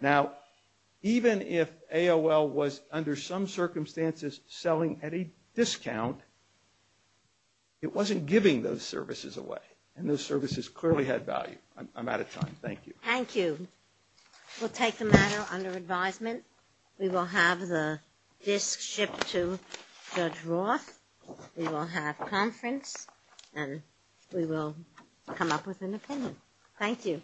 Now, even if AOL was, under some circumstances, selling at a discount, it wasn't giving those services away. And those services clearly had value. I'm out of time. Thank you. Thank you. We'll take the manual under advisement. We will have the disk shipped to Judge Roth. We will have a conference. Thank you. Thank you. Thank you. Thank you. Thank you. Thank you. Thank you. Thank you. Thank you.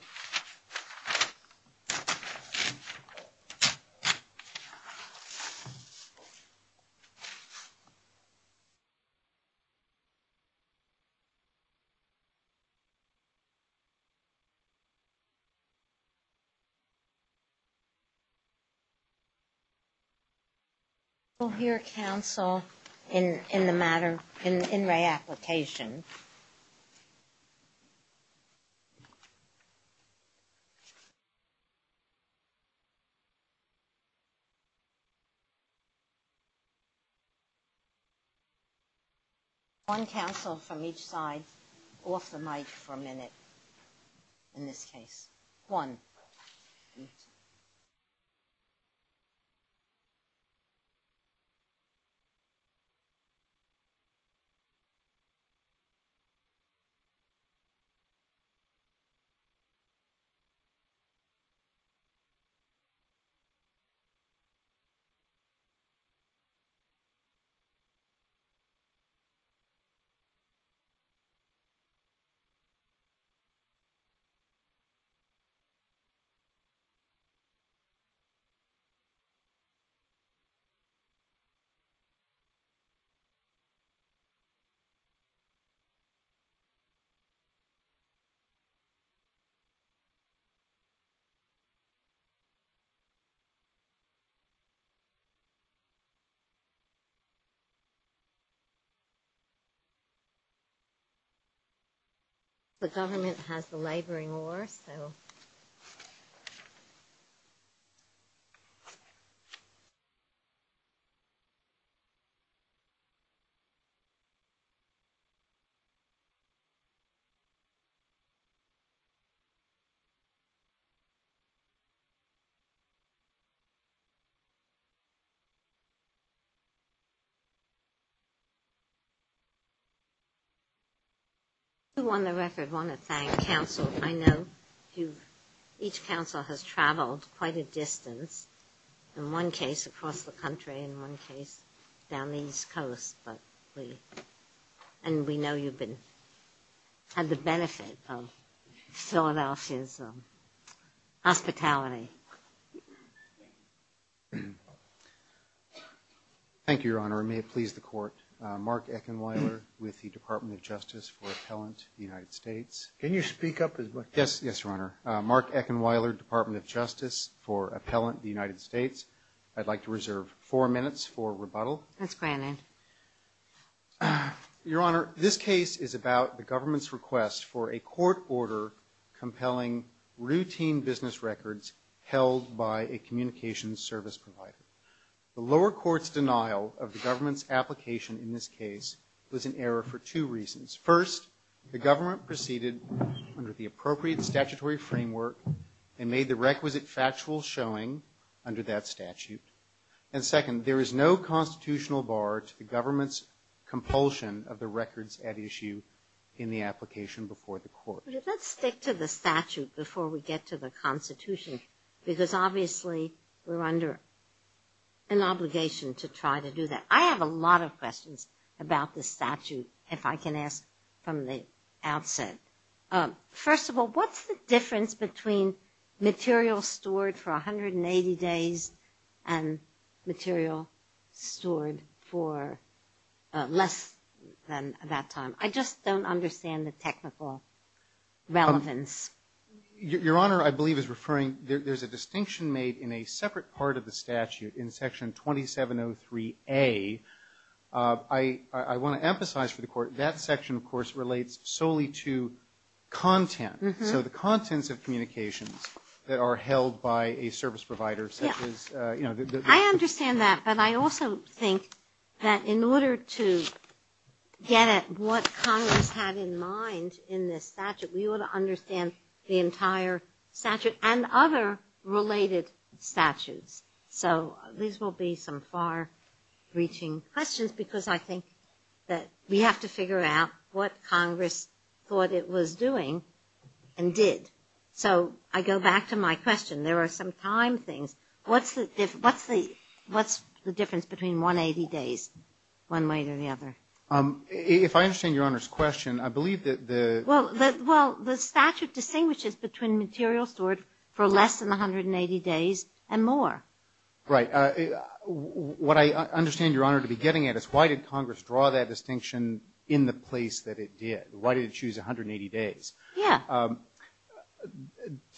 I will hear counsel in the modern... in my applications. One counsel from each side, off the mic for a minute in this case. One. One. Three. Eleven. Seventeen. Twenty. Twenty-one. Twenty-two. Twenty-three. Twenty-four. Twenty-five. Twenty-six. Twenty-seven. Twenty-eight. Twenty-nine. Twenty-nine. Twenty-eight. Twenty-nine. Twenty-nine. Twenty-nine. Twenty-nine. The government has a labor in war, so... Who on the record want to thank counsel? I know. Each counsel has traveled quite a distance, in one case across the country, in one case down the East Coast, but we... and we know you've been... had the benefit of Philadelphia's hospitality. Thank you, Your Honor. May it please the court. Mark Eckenleider with the Department of Justice for Appellants of the United States. Can you speak up? Yes, Your Honor. Mark Eckenleider, Department of Justice for Appellants of the United States. I'd like to reserve four minutes for rebuttal. That's fine. Your Honor, this case is about the government's request for a court order compelling routine business records held by a communications service provider. The lower court's denial of the government's application in this case was in error for two reasons. First, the government proceeded under the appropriate statutory framework and made the requisite factual showing under that statute. And second, there is no constitutional bar to the government's compulsion of the records at issue in the application before the court. Let's stick to the statute before we get to the constitution, because obviously we're under an obligation to try to do that. I have a lot of questions about the statute, if I can ask from the outset. First of all, what's the difference between material stored for 180 days and material stored for less than that time? I just don't understand the technical relevance. Your Honor, I believe is referring, there's a distinction made in a separate part of the I want to emphasize for the court, that section, of course, relates solely to content. So the contents of communications that are held by a service provider such as... I understand that, but I also think that in order to get at what Congress had in mind in this statute, we ought to understand the entire statute and other related statutes. So these will be some far-reaching questions, because I think that we have to figure out what Congress thought it was doing and did. So I go back to my question. There are some time things. What's the difference between 180 days, one way or the other? If I understand Your Honor's question, I believe that the... Right. What I understand Your Honor to be getting at is why did Congress draw that distinction in the place that it did? Why did it choose 180 days? Yeah.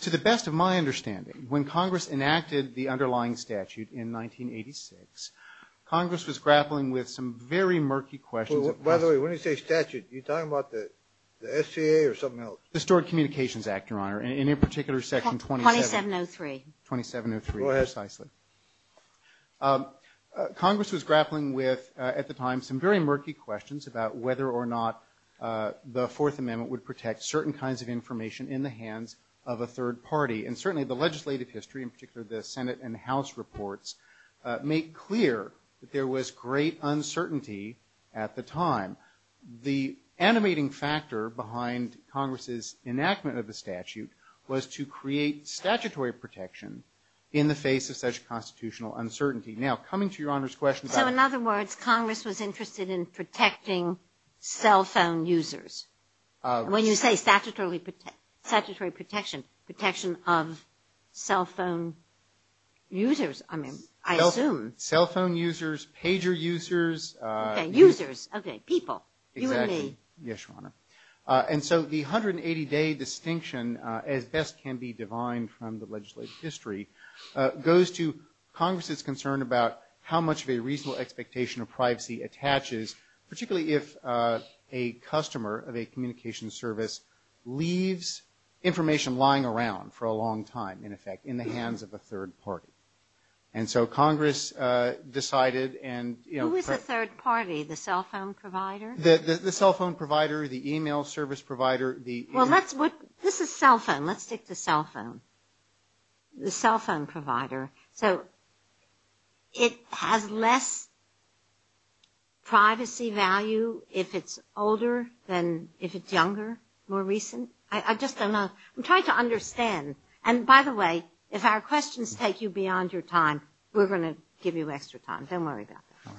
To the best of my understanding, when Congress enacted the underlying statute in 1986, Congress was grappling with some very murky questions... By the way, when you say statute, are you talking about the SCA or something else? The Stored Communications Act, Your Honor, and in particular, Section 2703. Go ahead. Congress was grappling with, at the time, some very murky questions about whether or not the Fourth Amendment would protect certain kinds of information in the hands of a third party. And certainly the legislative history, in particular the Senate and House reports, make clear that there was great uncertainty at the time. The animating factor behind Congress's enactment of the statute was to create statutory protection in the face of such constitutional uncertainty. Now, coming to Your Honor's question... So, in other words, Congress was interested in protecting cell phone users. When you say statutory protection, protection of cell phone users, I mean, I assume... Cell phone users, pager users... Okay, users. Okay, people. You and me. Yes, Your Honor. And so the 180-day distinction, as best can be divine from the legislative history, goes to Congress's concern about how much of a reasonable expectation of privacy attaches, particularly if a customer of a communications service leaves information lying around for a long time, in effect, in the hands of a third party. And so Congress decided... Who is a third party? The cell phone provider? The cell phone provider, the email service provider, the... Well, let's... This is cell phone. Let's stick to cell phone. The cell phone provider. So it has less privacy value if it's older than if it's younger, more recent? I just don't know. I'm trying to understand. And, by the way, if our questions take you beyond your time, we're going to give you extra time. Don't worry about that.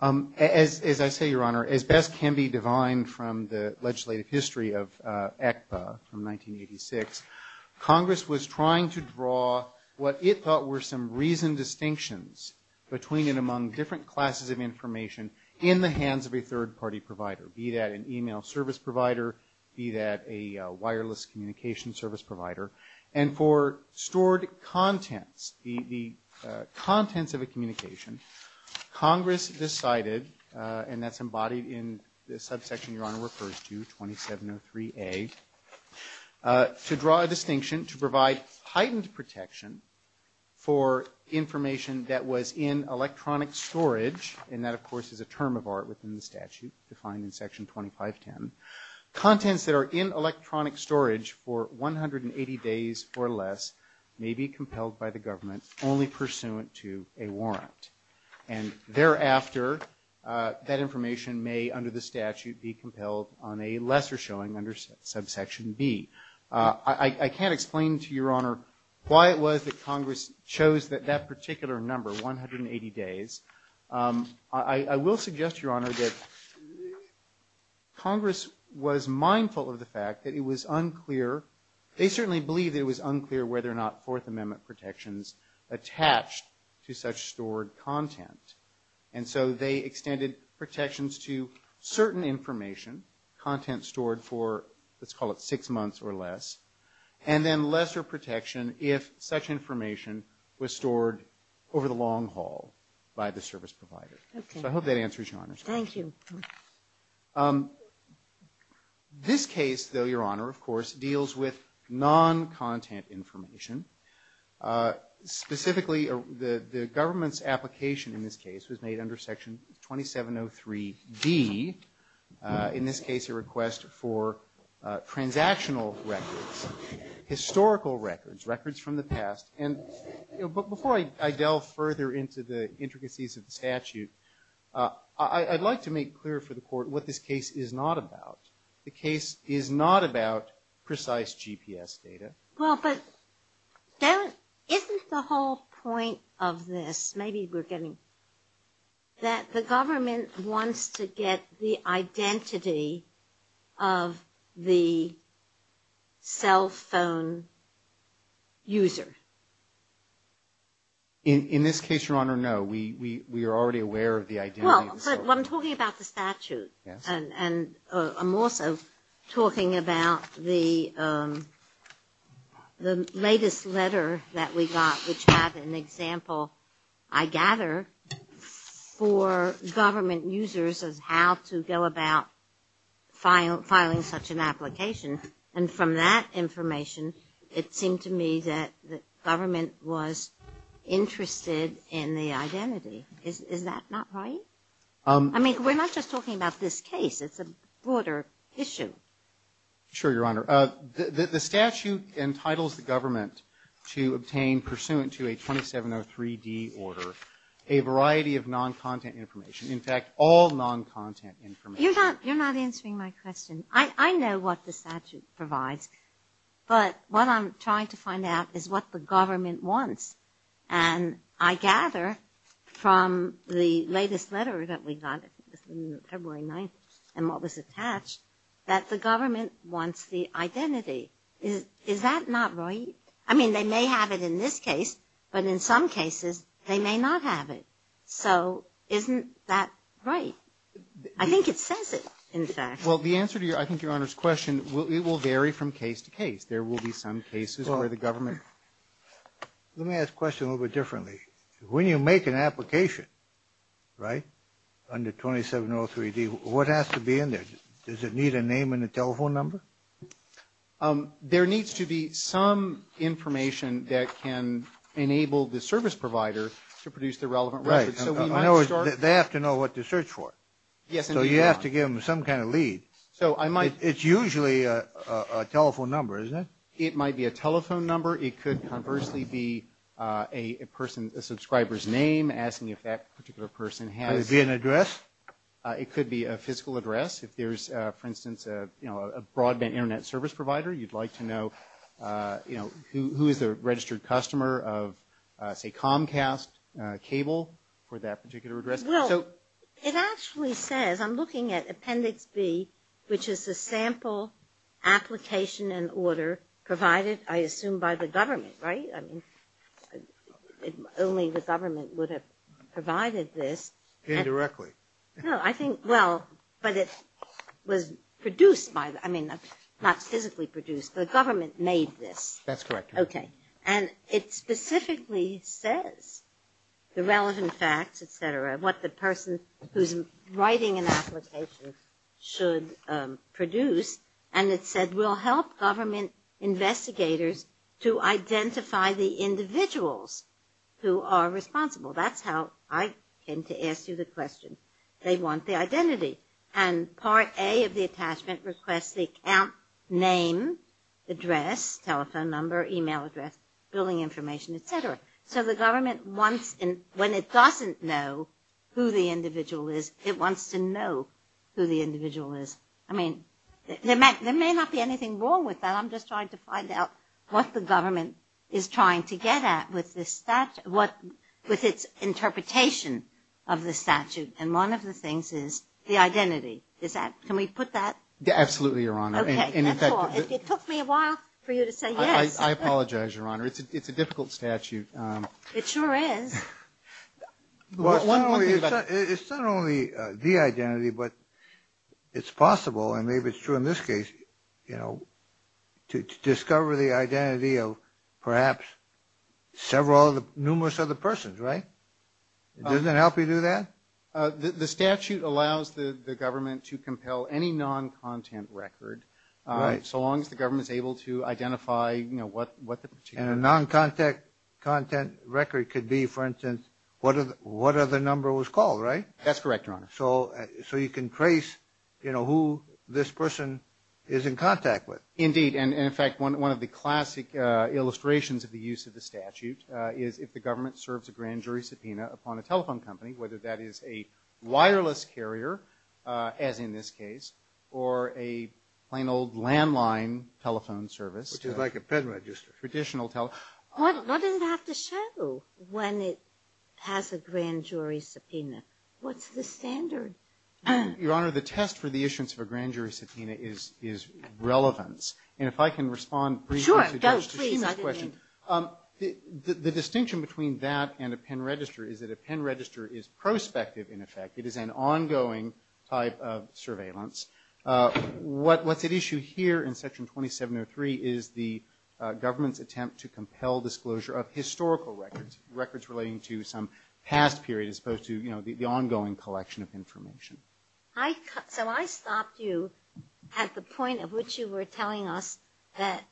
All right. As I say, Your Honor, as best can be divine from the legislative history of ECPA from 1986, Congress was trying to draw what it thought were some reasoned distinctions between and among different classes of information in the hands of a third party provider, be that an email service provider, be that a wireless communication service provider. And for stored contents, the contents of a communication, Congress decided, and that's embodied in the subsection Your Honor refers to, 2703A, to draw a distinction to provide heightened protection for information that was in electronic storage, and that, of course, is a term of art within the statute defined in Section 2510, contents that are in electronic storage for 180 days or less may be compelled by the government only pursuant to a warrant. And thereafter, that information may, under the statute, be compelled on a lesser showing under subsection B. I can't explain to Your Honor why it was that Congress chose that particular number, 180 days. I will suggest, Your Honor, that Congress was mindful of the fact that it was unclear, they certainly believed it was unclear whether or not Fourth Amendment protections attached to such stored content. And so they extended protections to certain information, content stored for, let's call it six months or less, and then lesser protection if such information was stored over the long haul by the service provider. So I hope that answers Your Honor's question. Thank you. This case, though, Your Honor, of course, deals with non-content information. Specifically, the government's application in this case was made under Section 2703D, in this case a request for transactional records, historical records, records from the past. And before I delve further into the intricacies of the statute, I'd like to make clear for the Court what this case is not about. The case is not about precise GPS data. Well, but isn't the whole point of this, maybe we're getting, that the government wants to get the identity of the cell phone user? In this case, Your Honor, no. We are already aware of the identity. Well, but I'm talking about the statute, and I'm also talking about the latest letter that we got, which had an example, I gather, for government users of how to go about filing such an application. And from that information, it seemed to me that the government was interested in the identity. Is that not right? I mean, we're not just talking about this case. It's a broader issue. Sure, Your Honor. The statute entitles the government to obtain, pursuant to a 2703D order, a variety of non-content information. In fact, all non-content information. You're not answering my question. I know what the statute provides, but what I'm trying to find out is what the government wants. And I gather, from the latest letter that we got, February 9th, and what was attached, that the government wants the identity. Is that not right? I mean, they may have it in this case, but in some cases, they may not have it. So, isn't that right? I think it says it, in fact. Well, the answer to, I think, Your Honor's question, it will vary from case to case. There will be some cases where the government... Let me ask the question a little bit differently. When you make an application, right, under 2703D, what has to be in there? Does it need a name and a telephone number? There needs to be some information that can enable the service provider to produce the relevant records. Right. They have to know what to search for. So, you have to give them some kind of lead. It's usually a telephone number, isn't it? It might be a telephone number. It could conversely be a subscriber's name, asking if that particular person has... Could it be an address? It could be a physical address. If there's, for instance, a broadband Internet service provider, you'd like to know, you know, who is the registered customer of, say, Comcast cable for that particular address. Well, it actually says, I'm looking at Appendix B, which is the sample application and order provided, I assume, by the government, right? I mean, only the government would have provided this. Indirectly. No, I think, well, but it was produced by, I mean, not physically produced. The government made this. That's correct. Okay. And it specifically says the relevant facts, et cetera, what the person who's writing an application should produce. And it said, we'll help government investigators to identify the individuals who are responsible. That's how I came to ask you the question. They want the identity. And Part A of the attachment requests the account name, address, telephone number, email address, billing information, et cetera. So the government wants, when it doesn't know who the individual is, it wants to know who the individual is. I mean, there may not be anything wrong with that. I'm just trying to find out what the government is trying to get at with its interpretation of the statute. And one of the things is the identity. Can we put that? Absolutely, Your Honor. Okay. It took me a while for you to say yes. I apologize, Your Honor. It's a difficult statute. It sure is. Well, it's not only the identity, but it's possible, and maybe it's true in this case, you know, to discover the identity of perhaps several of the numerous other persons, right? Does it help you do that? The statute allows the government to compel any non-content record. So long as the government is able to identify, you know, what the particular. And a non-content record could be, for instance, what other number was called, right? That's correct, Your Honor. So you can trace, you know, who this person is in contact with. Indeed, and, in fact, one of the classic illustrations of the use of the statute is if the government serves a grand jury subpoena upon a telephone company, whether that is a wireless carrier, as in this case, or a plain old landline telephone service. Which is like a PIN register. Traditional telephone. What does that have to show when it has a grand jury subpoena? What's the standard? Your Honor, the test for the issuance of a grand jury subpoena is relevance. And if I can respond briefly to that question. Sure, go, please. The distinction between that and a PIN register is that a PIN register is prospective, in effect. It is an ongoing type of surveillance. What's at issue here in Section 2703 is the government's attempt to compel disclosure of historical records. Records relating to some past period as opposed to, you know, the ongoing collection of information. So I stopped you at the point at which you were telling us that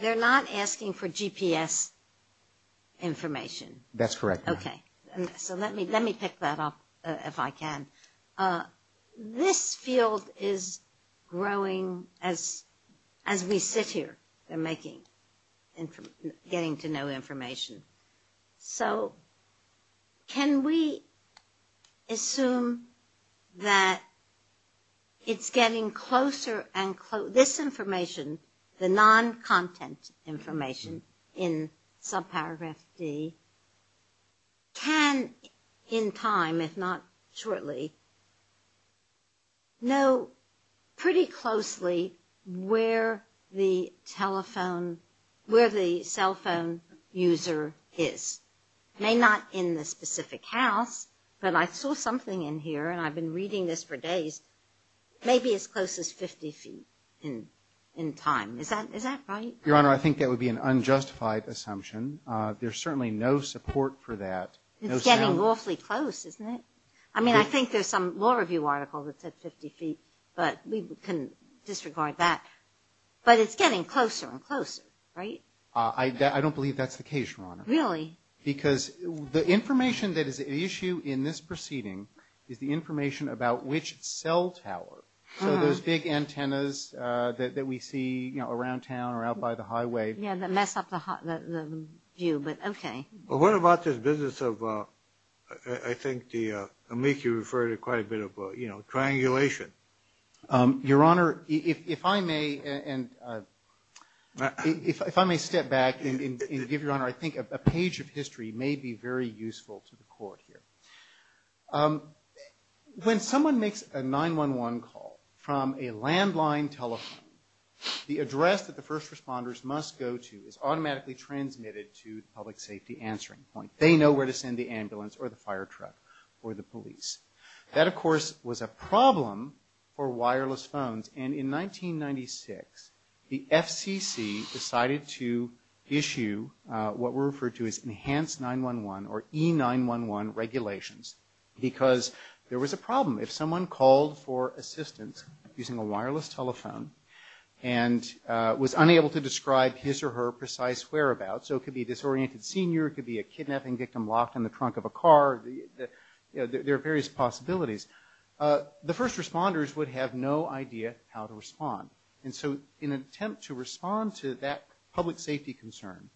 they're not asking for GPS information. That's correct, Your Honor. Okay. So let me pick that up if I can. This field is growing as we sit here. They're making, getting to know information. So can we assume that it's getting closer and closer, this information, the non-content information in subparagraph C, can in time, if not shortly, know pretty closely where the telephone, where the cell phone user is? May not in the specific house, but I saw something in here, and I've been reading this for days, may be as close as 50 feet in time. Is that right? Your Honor, I think that would be an unjustified assumption. There's certainly no support for that. It's getting awfully close, isn't it? I mean, I think there's some law review article that says 50 feet, but we can disregard that. But it's getting closer and closer, right? I don't believe that's the case, Your Honor. Really? Because the information that is at issue in this proceeding is the information about which cell tower. So those big antennas that we see, you know, around town or out by the highway. Yeah, that mess up the view, but okay. Well, what about this business of, I think, I'm going to make you refer to quite a bit of triangulation. Your Honor, if I may step back and give, Your Honor, I think a page of history may be very useful to the Court here. When someone makes a 911 call from a landline telephone, the address that the first responders must go to is automatically transmitted to the public safety answering point. They know where to send the ambulance or the fire truck or the police. That, of course, was a problem for wireless phones. And in 1996, the FCC decided to issue what were referred to as enhanced 911 or E-911 regulations because there was a problem. If someone called for assistance using a wireless telephone and was unable to describe his or her precise whereabouts, so it could be a disoriented senior, it could be a kidnapping victim locked in the trunk of a car, there are various possibilities. The first responders would have no idea how to respond. And so in an attempt to respond to that public safety concern,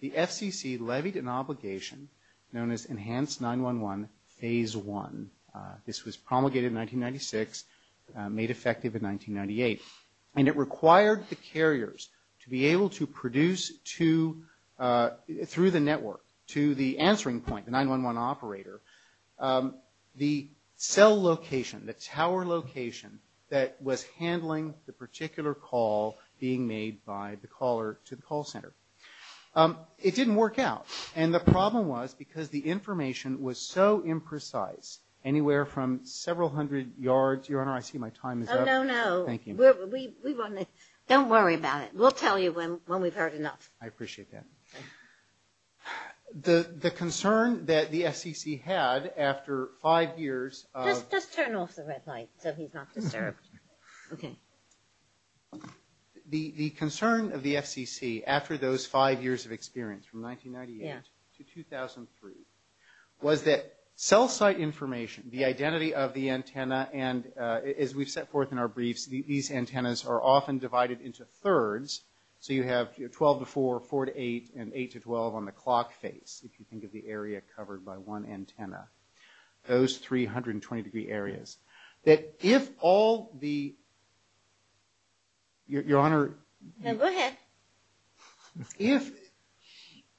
the FCC levied an obligation known as Enhanced 911 Phase 1. This was promulgated in 1996, made effective in 1998, and it required the carriers to be able to produce through the network to the answering point, the 911 operator. The cell location, the tower location that was handling the particular call being made by the caller to the call center, it didn't work out. And the problem was because the information was so imprecise, anywhere from several hundred yards. Your Honor, I see my time is up. Oh, no, no. Thank you. Don't worry about it. We'll tell you when we've heard enough. I appreciate that. The concern that the FCC had after five years of... Just turn off the red light so he's not disturbed. Okay. The concern of the FCC after those five years of experience, from 1998 to 2003, was that cell site information, the identity of the antenna, and as we set forth in our briefs, these antennas are often divided into thirds. So you have 12 to 4, 4 to 8, and 8 to 12 on the clock face. You can think of the area covered by one antenna. Those 320-degree areas. That if all the... Your Honor... Go ahead. If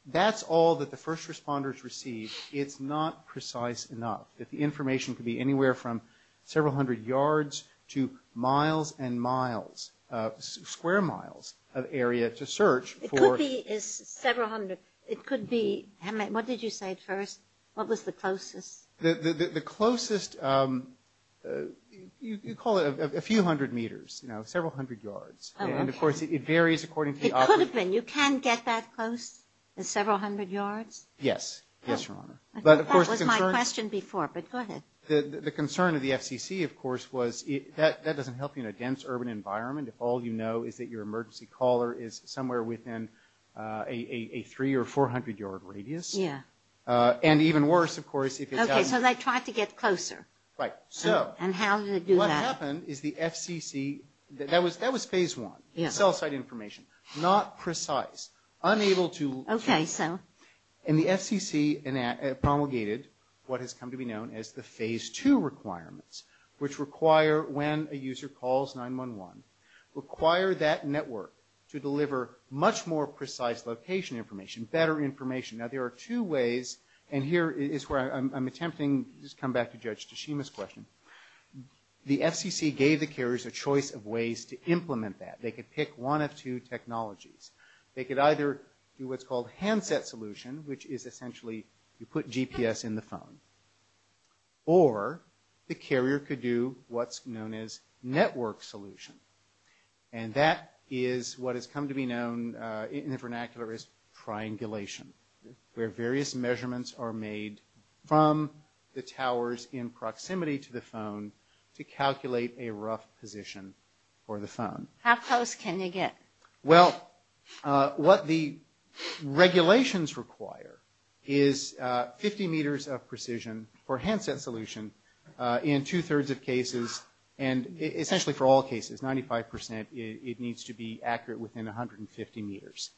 that's all that the first responders receive, it's not precise enough. That the information could be anywhere from several hundred yards to miles and miles, square miles of area to search for... It could be several hundred. It could be... What did you say first? What was the closest? The closest... You call it a few hundred meters, several hundred yards. And, of course, it varies according to the... It could have been. You can get that close to several hundred yards? Yes. Yes, Your Honor. That was my question before, but go ahead. The concern of the FCC, of course, was that doesn't help you in a dense urban environment if all you know is that your emergency caller is somewhere within a 300 or 400-yard radius. Yes. And even worse, of course... Okay. So they try to get closer. Right. So... And how do they do that? What happened is the FCC... That was phase one. Yes. Cell site information. Not precise. Unable to... Okay, so... And the FCC promulgated what has come to be known as the phase two requirements, which require when a user calls 911, require that network to deliver much more precise location information, better information. Now, there are two ways, and here is where I'm attempting to just come back to Judge Tashima's question. The FCC gave the carriers a choice of ways to implement that. They could pick one of two technologies. They could either do what's called handset solution, which is essentially you put GPS in the phone, or the carrier could do what's known as network solution. And that is what has come to be known in the vernacular as triangulation, where various measurements are made from the towers in proximity to the phone to calculate a rough position for the phone. How close can you get? Well, what the regulations require is 50 meters of precision for handset solution in two-thirds of cases, and essentially for all cases, 95%, it needs to be accurate within 150 meters.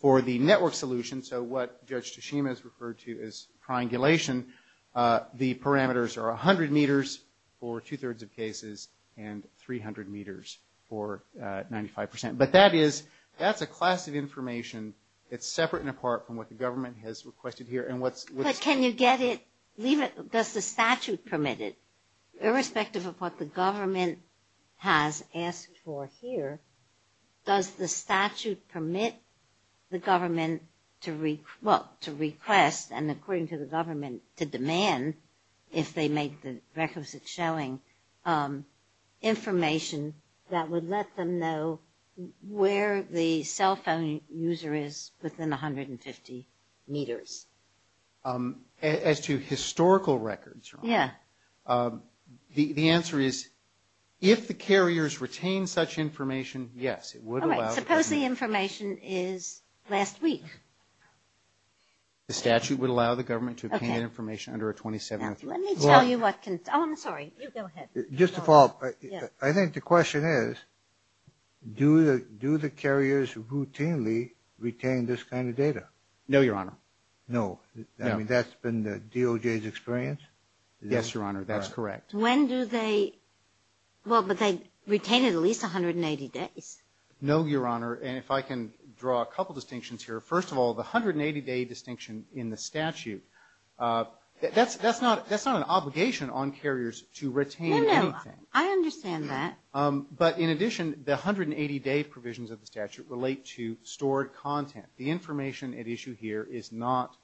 For the network solution, so what Judge Tashima has referred to as triangulation, the parameters are 100 meters for two-thirds of cases and 300 meters for 95%. But that is – that's a class of information. It's separate and apart from what the government has requested here, and what's – But can you get it – leave it – does the statute permit it? Irrespective of what the government has asked for here, does the statute permit the government to – well, to request, and according to the government, to demand, if they make the requisite showing, information that would let them know where the cell phone user is within 150 meters? As to historical records? Yeah. The answer is, if the carriers retain such information, yes, it would allow – Suppose the information is last week. The statute would allow the government to obtain information under a 27-month period. Let me tell you what – oh, I'm sorry. Go ahead. Just to follow up, I think the question is, do the carriers routinely retain this kind of data? No, Your Honor. No. I mean, that's been the DOJ's experience? Yes, Your Honor. That's correct. When do they – well, but they retain at least 180 days. No, Your Honor, and if I can draw a couple distinctions here. First of all, the 180-day distinction in the statute, that's not an obligation on carriers to retain anything. No, no. I understand that. But in addition, the 180-day provisions of the statute relate to stored content. The information at issue here is not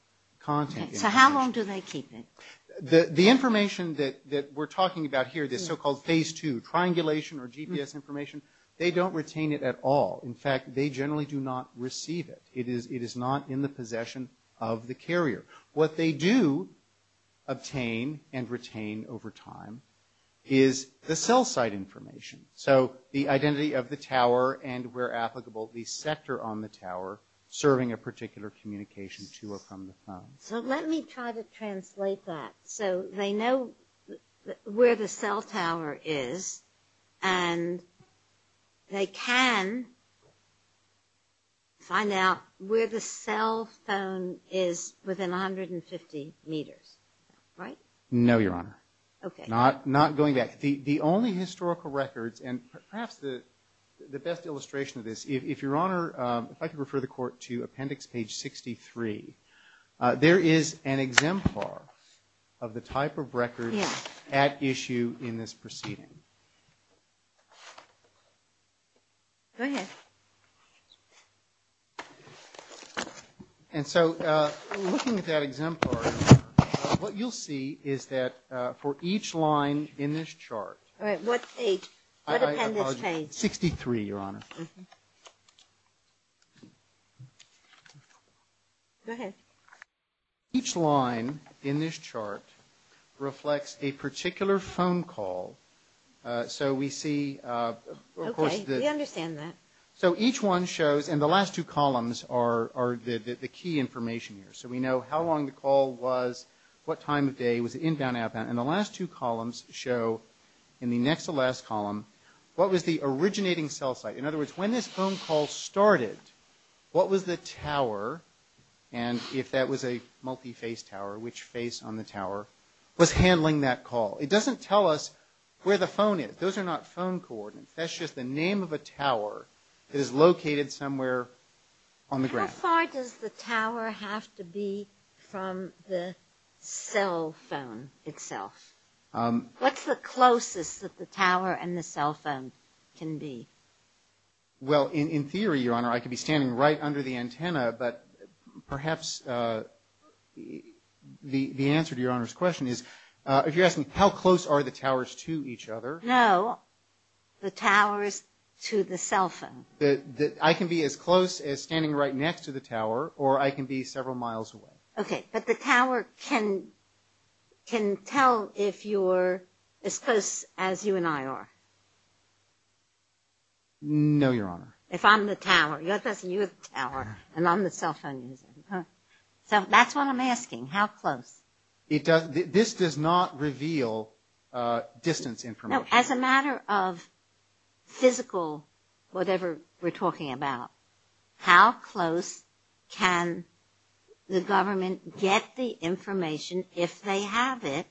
content. So how long do they keep it? The information that we're talking about here, this so-called phase two, triangulation or GPS information, they don't retain it at all. In fact, they generally do not receive it. It is not in the possession of the carrier. What they do obtain and retain over time is the cell site information. So the identity of the tower and, where applicable, the sector on the tower serving a particular communication to or from the phone. So let me try to translate that. So they know where the cell tower is, and they can find out where the cell phone is within 150 meters, right? No, Your Honor. Okay. Not going back. The only historical records, and perhaps the best illustration of this, if Your Honor, if I could refer the Court to appendix page 63, there is an exemplar of the type of records at issue in this proceeding. Go ahead. And so looking at that exemplar, what you'll see is that for each line in this chart. All right. What page? What appendix page? 63, Your Honor. Go ahead. Each line in this chart reflects a particular phone call. So we see, of course, the- Okay. We understand that. So each one shows, and the last two columns are the key information here. So we know how long the call was, what time of day, was it inbound or outbound. And the last two columns show, in the next to last column, what was the originating cell site. In other words, when this phone call started, what was the tower, and if that was a multi-face tower, which face on the tower, was handling that call. It doesn't tell us where the phone is. Those are not phone coordinates. That's just the name of a tower that is located somewhere on the ground. How far does the tower have to be from the cell phone itself? What's the closest that the tower and the cell phone can be? Well, in theory, Your Honor, I could be standing right under the antenna. But perhaps the answer to Your Honor's question is, if you're asking how close are the towers to each other- No, the towers to the cell phone. I can be as close as standing right next to the tower, or I can be several miles away. Okay, but the tower can tell if you're as close as you and I are. No, Your Honor. If I'm the tower. Let's say you're the tower, and I'm the cell phone. So that's what I'm asking, how close. This does not reveal distance information. As a matter of physical whatever we're talking about, how close can the government get the information, if they have it,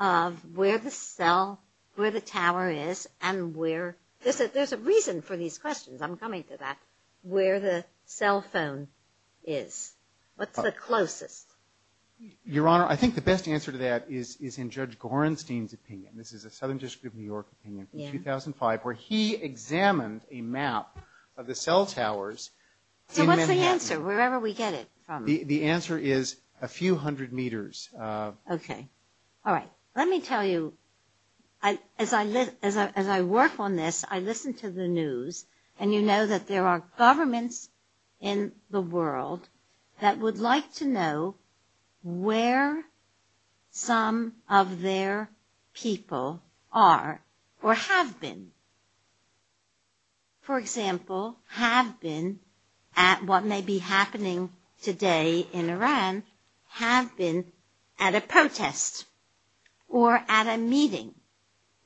of where the tower is and where- There's a reason for these questions. I'm coming to that. Where the cell phone is. What's the closest? Your Honor, I think the best answer to that is in Judge Gorenstein's opinion. This is a Southern District of New York opinion from 2005, where he examined a map of the cell towers- So what's the answer, wherever we get it from? The answer is a few hundred meters. Okay. All right. Let me tell you, as I work on this, I listen to the news, and you know that there are governments in the world that would like to know where some of their people are or have been. For example, have been at what may be happening today in Iran, have been at a protest, or at a meeting,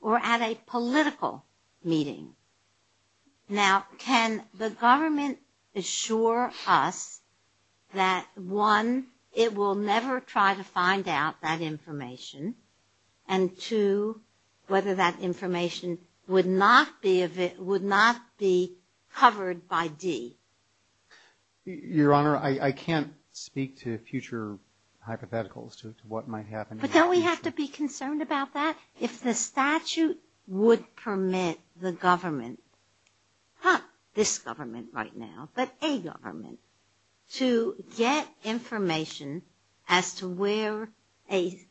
or at a political meeting. Now, can the government assure us that, one, it will never try to find out that information, and two, whether that information would not be covered by D? Your Honor, I can't speak to future hypotheticals as to what might happen. But don't we have to be concerned about that? If the statute would permit the government, not this government right now, but a government, to get information as to where a-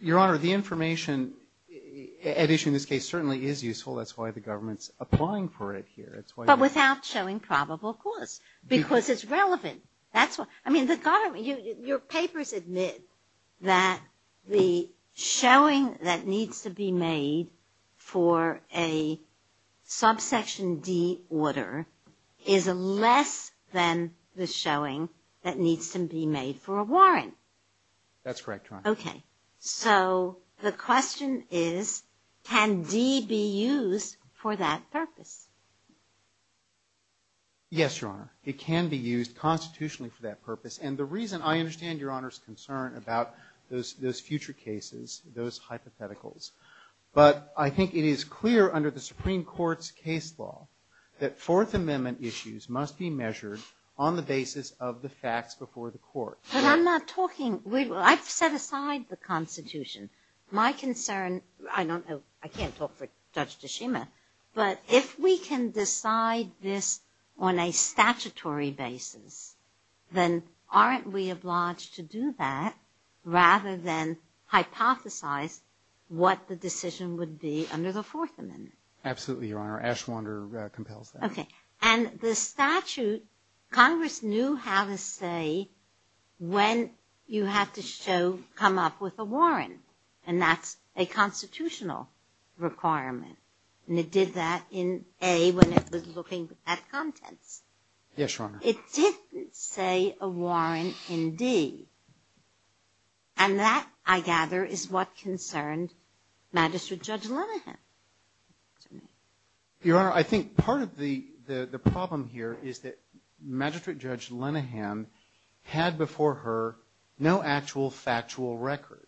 Your Honor, the information at issue in this case certainly is useful. That's why the government's applying for it here. But without showing probable cause, because it's relevant. Your papers admit that the showing that needs to be made for a subsection D order is less than the showing that needs to be made for a warrant. That's correct, Your Honor. Okay. So the question is, can D be used for that purpose? Yes, Your Honor. It can be used constitutionally for that purpose. And the reason- I understand Your Honor's concern about those future cases, those hypotheticals. But I think it is clear under the Supreme Court's case law that Fourth Amendment issues must be measured on the basis of the facts before the court. But I'm not talking- I've set aside the Constitution. My concern- I don't know. I can't talk for Justice Schumer. But if we can decide this on a statutory basis, then aren't we obliged to do that rather than hypothesize what the decision would be under the Fourth Amendment? Absolutely, Your Honor. Ashwander compels that. Okay. And the statute- Congress knew how to say when you have to show- come up with a warrant. And that's a constitutional requirement. And it did that in A when it was looking at content. Yes, Your Honor. It didn't say a warrant in D. And that, I gather, is what concerns Magistrate Judge Linnehan. Your Honor, I think part of the problem here is that Magistrate Judge Linnehan had before her no actual factual record.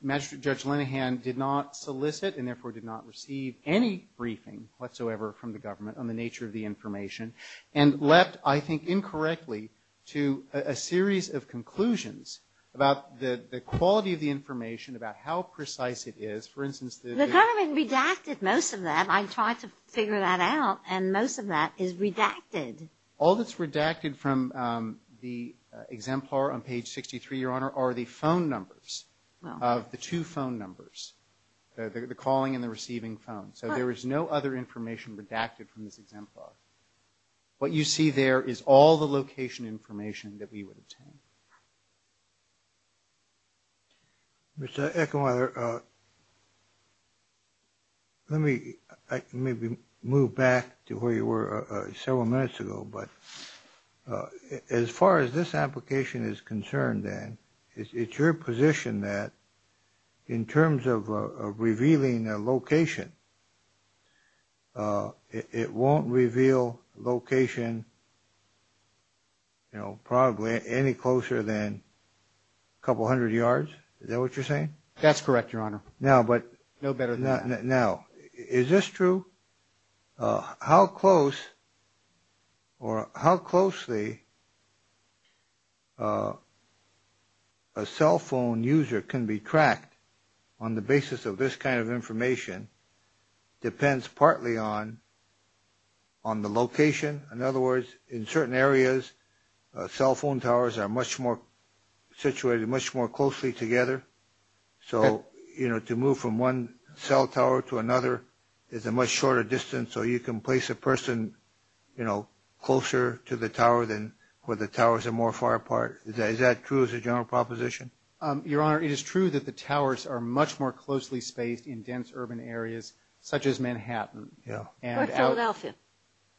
Magistrate Judge Linnehan did not solicit and therefore did not receive any briefing whatsoever from the government on the nature of the information. And left, I think incorrectly, to a series of conclusions about the quality of the information, about how precise it is. The government redacted most of that. I tried to figure that out. And most of that is redacted. All that's redacted from the exemplar on page 63, Your Honor, are the phone numbers, the two phone numbers, the calling and the receiving phone. So there is no other information redacted from this exemplar. What you see there is all the location information that we would obtain. Mr. Ecklweiler, let me move back to where you were several minutes ago. But as far as this application is concerned, then, it's your position that in terms of revealing the location, it won't reveal location, you know, probably any closer to the location. Closer than a couple hundred yards. Is that what you're saying? That's correct, Your Honor. No, but no better than that. Now, is this true? How close or how closely a cell phone user can be tracked on the basis of this kind of information depends partly on the location. In other words, in certain areas, cell phone towers are much more situated, much more closely together. So, you know, to move from one cell tower to another is a much shorter distance. So you can place a person, you know, closer to the tower where the towers are more far apart. Is that true as a general proposition? Your Honor, it is true that the towers are much more closely spaced in dense urban areas such as Manhattan. Yeah. What about Nelson?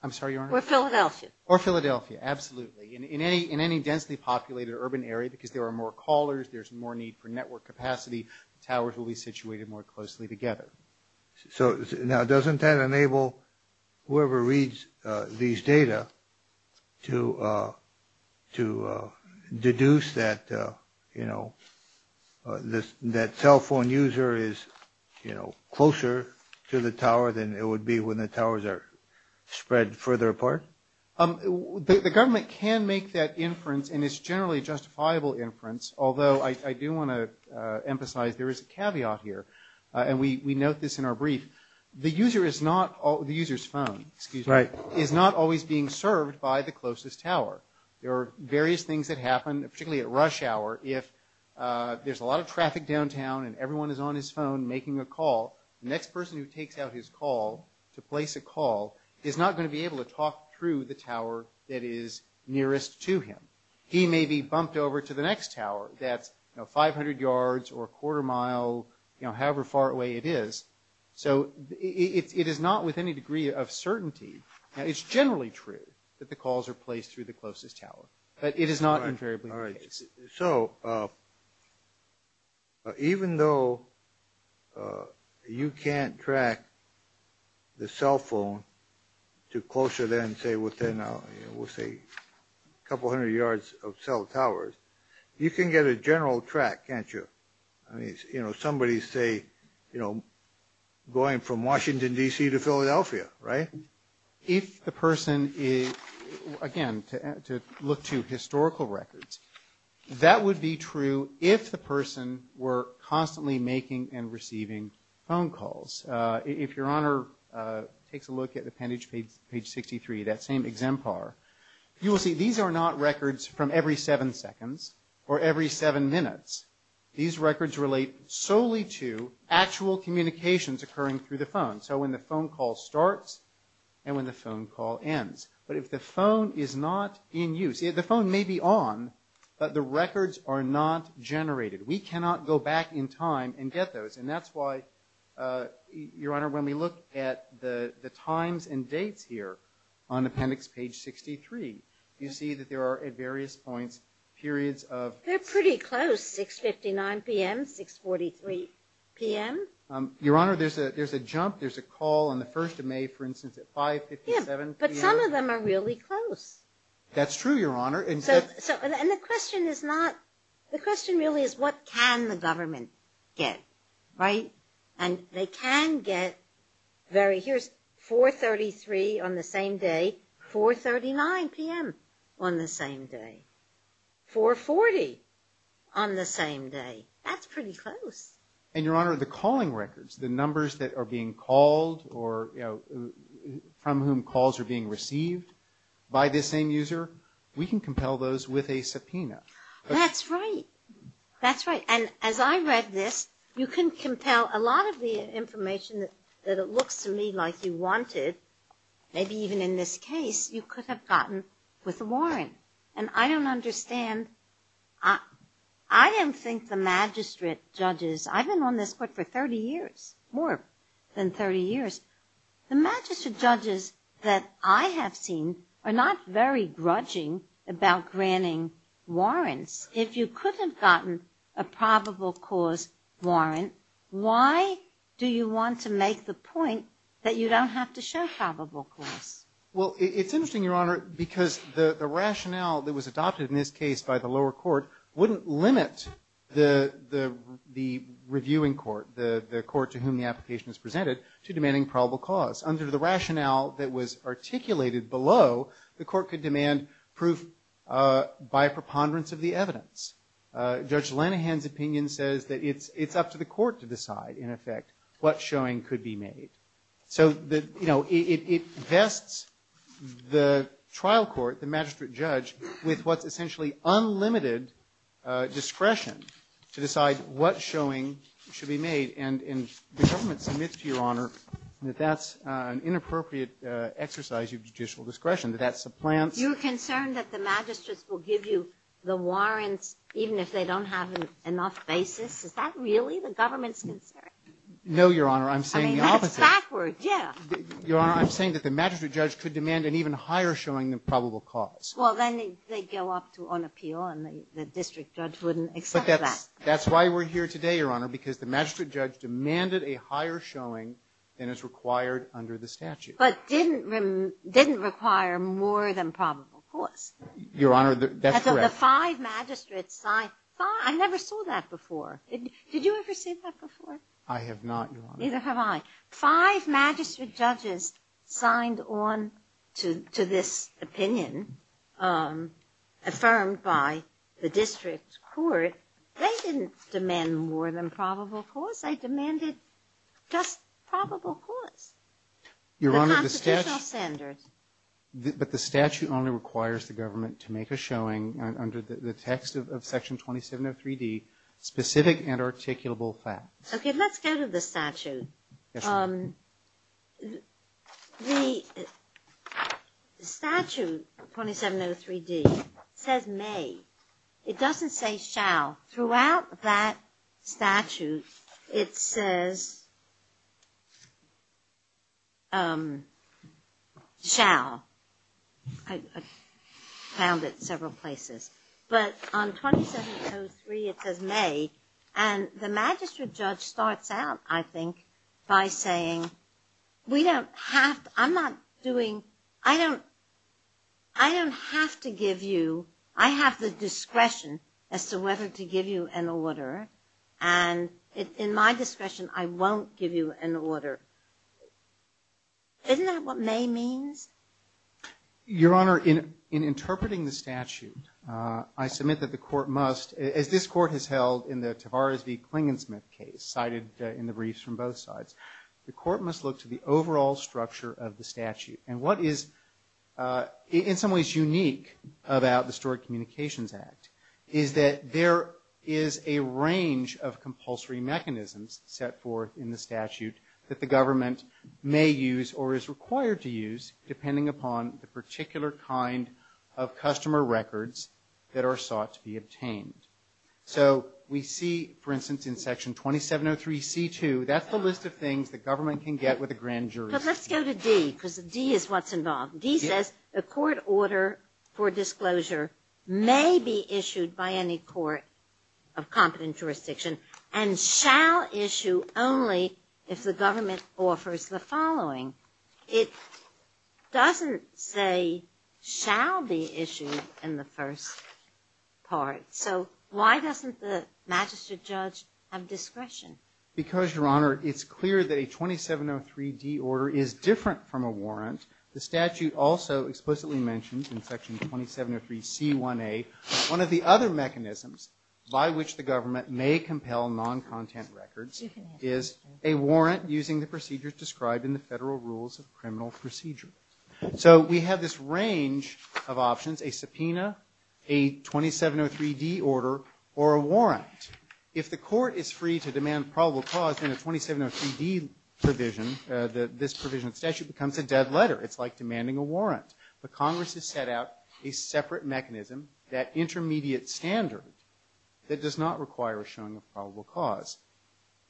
I'm sorry, Your Honor. Or Philadelphia. Or Philadelphia, absolutely. In any densely populated urban area, because there are more callers, there's more need for network capacity, towers will be situated more closely together. Now, doesn't that enable whoever reads these data to deduce that, you know, that cell phone user is, you know, closer to the tower than it would be when the towers are spread further apart? The government can make that inference, and it's generally a justifiable inference, although I do want to emphasize there is a caveat here. And we note this in our brief. The user is not – the user's phone is not always being served by the closest tower. There are various things that happen, particularly at rush hour, if there's a lot of traffic downtown and everyone is on his phone making a call. The next person who takes out his call to place a call is not going to be able to talk through the tower that is nearest to him. He may be bumped over to the next tower that's, you know, 500 yards or a quarter mile, you know, however far away it is. So it is not with any degree of certainty. Now, it's generally true that the calls are placed through the closest tower, but it is not invariably the case. So even though you can't track the cell phone to closer than, say, within, you know, we'll say a couple hundred yards of cell towers, you can get a general track, can't you? I mean, you know, somebody, say, you know, going from Washington, D.C. to Philadelphia, right? And if the person is, again, to look to historical records, that would be true if the person were constantly making and receiving phone calls. If Your Honor takes a look at appendage page 63, that same exempar, you will see these are not records from every seven seconds or every seven minutes. These records relate solely to actual communications occurring through the phone. So when the phone call starts and when the phone call ends. But if the phone is not in use, the phone may be on, but the records are not generated. We cannot go back in time and get those. And that's why, Your Honor, when we look at the times and dates here on appendix page 63, you see that there are at various points periods of. They're pretty close, 659 p.m., 643 p.m. Your Honor, there's a jump, there's a call on the 1st of May, for instance, at 557 p.m. Yeah, but some of them are really close. That's true, Your Honor. And the question is not, the question really is what can the government get, right? And they can get very, here's 433 on the same day, 439 p.m. on the same day, 440 on the same day. That's pretty close. And, Your Honor, the calling records, the numbers that are being called or from whom calls are being received by the same user, we can compel those with a subpoena. That's right. That's right. And as I read this, you can compel a lot of the information that it looks to me like you wanted, maybe even in this case, you could have gotten with a warrant. And I don't understand, I didn't think the magistrate judges, I've been on this court for 30 years, more than 30 years. The magistrate judges that I have seen are not very grudging about granting warrants. If you could have gotten a probable cause warrant, why do you want to make the point that you don't have to show probable cause? Well, it's interesting, Your Honor, because the rationale that was adopted in this case by the lower court wouldn't limit the reviewing court, the court to whom the application is presented, to demanding probable cause. Under the rationale that was articulated below, the court could demand proof by preponderance of the evidence. Judge Lanahan's opinion says that it's up to the court to decide, in effect, what showing could be made. So, you know, it vests the trial court, the magistrate judge, with what's essentially unlimited discretion to decide what showing should be made. And the government submits to Your Honor that that's an inappropriate exercise of judicial discretion, that that's the plan. You're concerned that the magistrate will give you the warrants even if they don't have enough basis? Is that really the government's concern? No, Your Honor, I'm saying the opposite. I mean, it's backwards, yeah. Your Honor, I'm saying that the magistrate judge could demand an even higher showing than probable cause. Well, then they'd go off to on appeal, and the district judge wouldn't accept that. But that's why we're here today, Your Honor, because the magistrate judge demanded a higher showing than is required under the statute. But didn't require more than probable cause. Your Honor, that's correct. I never saw that before. Did you ever see that before? I have not, Your Honor. Neither have I. Five magistrate judges signed on to this opinion, affirmed by the district court. They didn't demand more than probable cause. They demanded just probable cause, the constitutional standard. But the statute only requires the government to make a showing under the text of Section 2703D specific and articulable facts. Okay, let's go to the statute. The statute, 2703D, says may. It doesn't say shall. Throughout that statute, it says shall. I've found it several places. But on 2703, it says may. And the magistrate judge starts out, I think, by saying, we don't have to – I'm not doing – I don't have to give you – I don't have to give you an order. And in my discussion, I won't give you an order. Isn't that what may means? Your Honor, in interpreting the statute, I submit that the court must – as this court has held in the Tavares v. Klingensmith case, cited in the briefs from both sides, the court must look to the overall structure of the statute. And what is in some ways unique about the Historic Communications Act is that there is a range of compulsory mechanisms set forth in the statute that the government may use or is required to use depending upon the particular kind of customer records that are sought to be obtained. So we see, for instance, in Section 2703C2, that's a list of things the government can get with a grand jury. But let's go to D, because D is what's involved. D says the court order for disclosure may be issued by any court of competent jurisdiction and shall issue only if the government offers the following. It doesn't say shall be issued in the first part. So why doesn't the magistrate judge have discretion? Because, Your Honor, it's clear that a 2703D order is different from a warrant. The statute also explicitly mentions in Section 2703C1A that one of the other mechanisms by which the government may compel non-content records is a warrant using the procedures described in the Federal Rules of Criminal Procedure. So we have this range of options, a subpoena, a 2703D order, or a warrant. If the court is free to demand probable cause in a 2703D provision, this provision of statute becomes a dead letter. It's like demanding a warrant. The Congress has set out a separate mechanism, that intermediate standard, that does not require a showing of probable cause.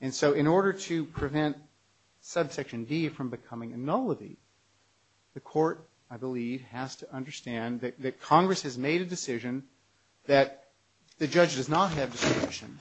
And so in order to prevent Subsection D from becoming a nullity, the court, I believe, has to understand that Congress has made a decision that the judge does not have discretion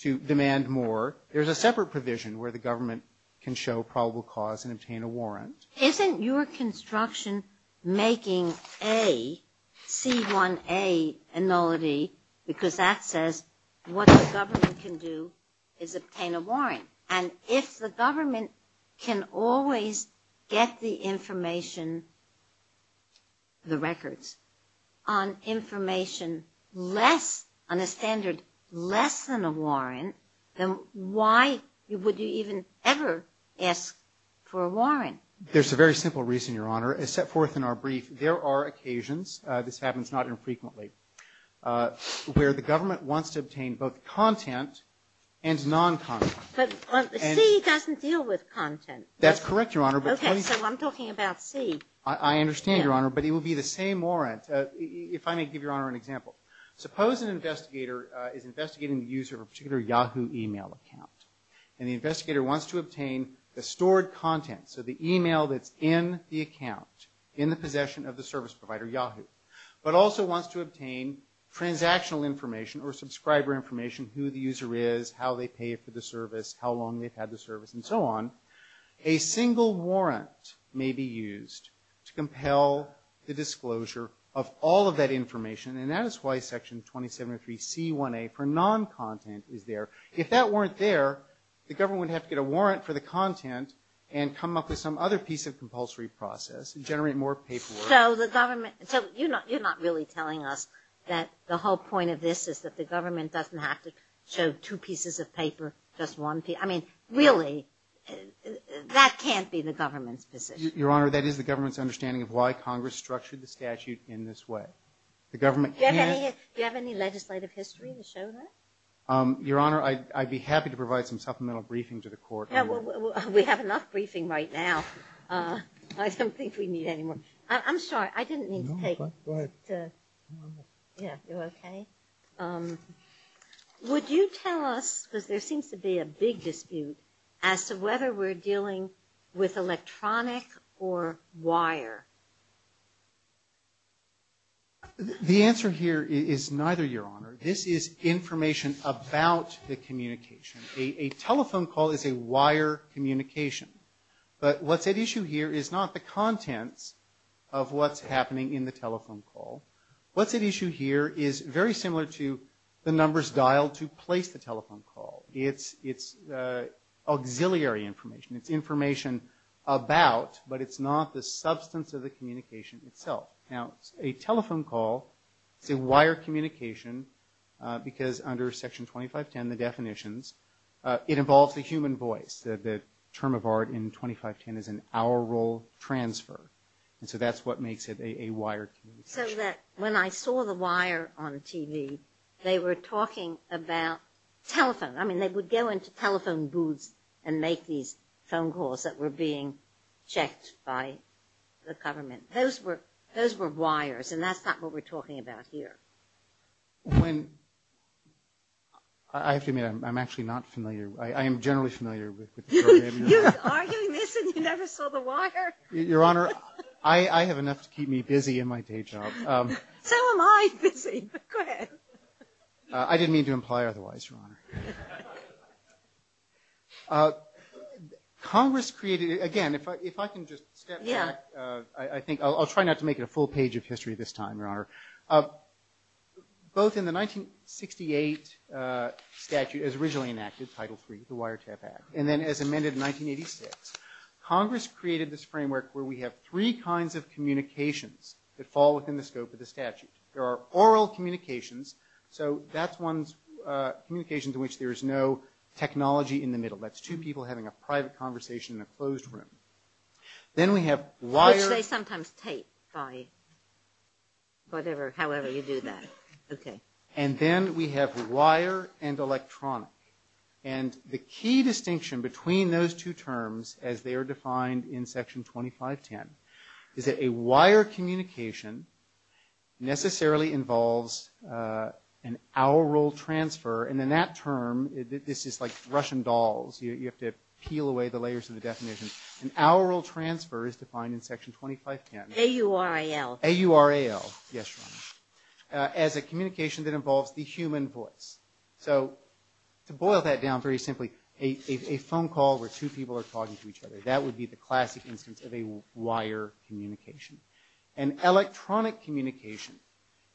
to demand more. There's a separate provision where the government can show probable cause and obtain a warrant. Isn't your construction making a C1A nullity because that says what the government can do is obtain a warrant? And if the government can always get the information, the records, on information less, on a standard less than a warrant, then why would you even ever ask for a warrant? There's a very simple reason, Your Honor. As set forth in our brief, there are occasions, this happens not infrequently, where the government wants to obtain both content and non-content. But C doesn't deal with content. That's correct, Your Honor. Okay, so I'm talking about C. I understand, Your Honor, but it would be the same warrant. If I may give Your Honor an example. Suppose an investigator is investigating the user of a particular Yahoo email account. And the investigator wants to obtain the stored content, so the email that's in the account, in the possession of the service provider, Yahoo, but also wants to obtain transactional information or subscriber information, who the user is, how they paid for the service, how long they've had the service, and so on. A single warrant may be used to compel the disclosure of all of that information. And that is why Section 273C1A for non-content is there. If that weren't there, the government would have to get a warrant for the content and come up with some other piece of compulsory process to generate more paperwork. So you're not really telling us that the whole point of this is that the government doesn't have to show two pieces of paper, just one piece. I mean, really, that can't be the government's decision. Your Honor, that is the government's understanding of why Congress structured the statute in this way. Do you have any legislative history to show that? Your Honor, I'd be happy to provide some supplemental briefing to the court. We have enough briefing right now. I don't think we need any more. I'm sorry, I didn't mean to take it. No, go ahead. Yeah, you're okay? Would you tell us that there seems to be a big dispute as to whether we're dealing with electronic or wire? The answer here is neither, Your Honor. This is information about the communication. A telephone call is a wire communication. But what's at issue here is not the content of what's happening in the telephone call. What's at issue here is very similar to the numbers dialed to place the telephone call. It's auxiliary information. It's information about, but it's not the substance of the communication itself. Now, a telephone call is a wire communication because under Section 2510, the definitions, it involves the human voice, that the term of art in 2510 is an aural transfer. And so that's what makes it a wire communication. So that when I saw the wire on TV, they were talking about telephone. I mean, they would go into telephone booths and make these phone calls that were being checked by the government. Those were wires, and that's not what we're talking about here. Excuse me. I'm actually not familiar. I am generally familiar with the program. You are? You mentioned you never saw the wire? Your Honor, I have enough to keep me busy in my day job. So am I busy. Go ahead. I didn't mean to imply otherwise, Your Honor. Congress created, again, if I can just step back. I'll try not to make it a full page of history this time, Your Honor. Both in the 1968 statute as originally enacted, Title III, the Wiretap Act, and then as amended in 1986, Congress created this framework where we have three kinds of communications that fall within the scope of the statute. There are aural communications, so that's communications in which there is no technology in the middle. That's two people having a private conversation in a closed room. Then we have wire. Which they sometimes tape, sorry. Whatever, however you do that. Okay. And then we have wire and electronics. And the key distinction between those two terms, as they are defined in Section 2510, is that a wire communication necessarily involves an aural transfer, and then that term is just like Russian dolls. You have to peel away the layers of the definition. An aural transfer is defined in Section 2510. A-U-R-A-L. A-U-R-A-L. Yes, Your Honor. As a communication that involves a human voice. So to boil that down very simply, a phone call where two people are talking to each other. That would be the classic instance of a wire communication. An electronic communication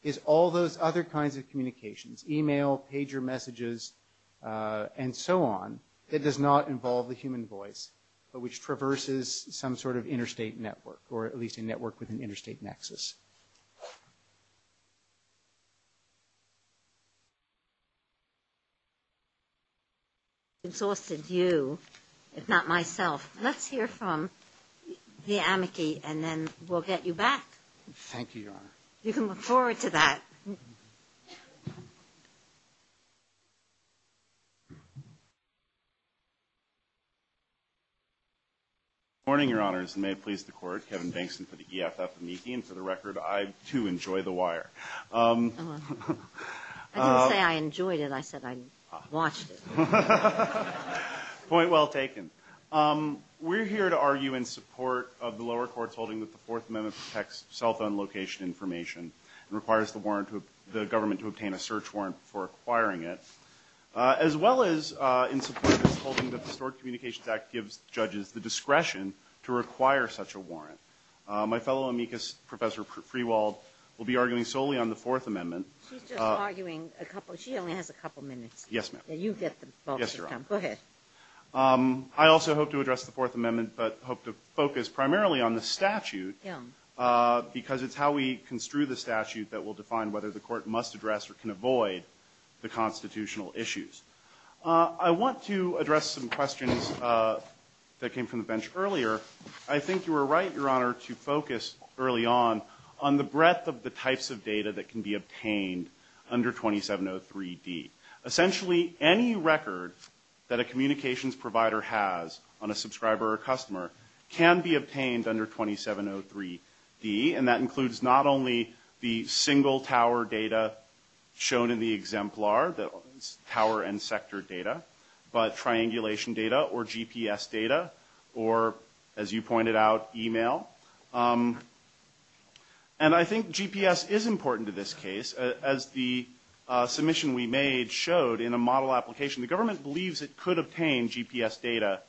is all those other kinds of communications, email, pager messages, and so on, that does not involve the human voice, but which traverses some sort of interstate network, or at least a network with an interstate nexus. If not myself, let's hear from the amici, and then we'll get you back. Thank you, Your Honor. You can look forward to that. Good morning, Your Honors, and may it please the Court. Kevin Bankson for the EFF amici, and for the record, I too enjoy the wire. I didn't say I enjoyed it, I said I watched it. Point well taken. We're here to argue in support of the lower court's holding that the Fourth Amendment protects cell phone location information and requires the government to obtain a search warrant for acquiring it, as well as in support of the holding that the Stort Communications Act gives judges the discretion to require such a warrant. My fellow amicus, Professor Freewald, will be arguing solely on the Fourth Amendment. She's just arguing a couple. Yes, ma'am. Go ahead. I also hope to address the Fourth Amendment but hope to focus primarily on the statute because it's how we construe the statute that will define whether the court must address or can avoid the constitutional issues. I want to address some questions that came from the bench earlier. I think you were right, Your Honor, to focus early on on the breadth of the types of data that can be obtained under 2703D. Essentially, any record that a communications provider has on a subscriber or customer can be obtained under 2703D, and that includes not only the single tower data shown in the exemplar, the tower and sector data, but triangulation data or GPS data or, as you pointed out, email. And I think GPS is important to this case. As the submission we made showed in a model application, the government believes it could obtain GPS data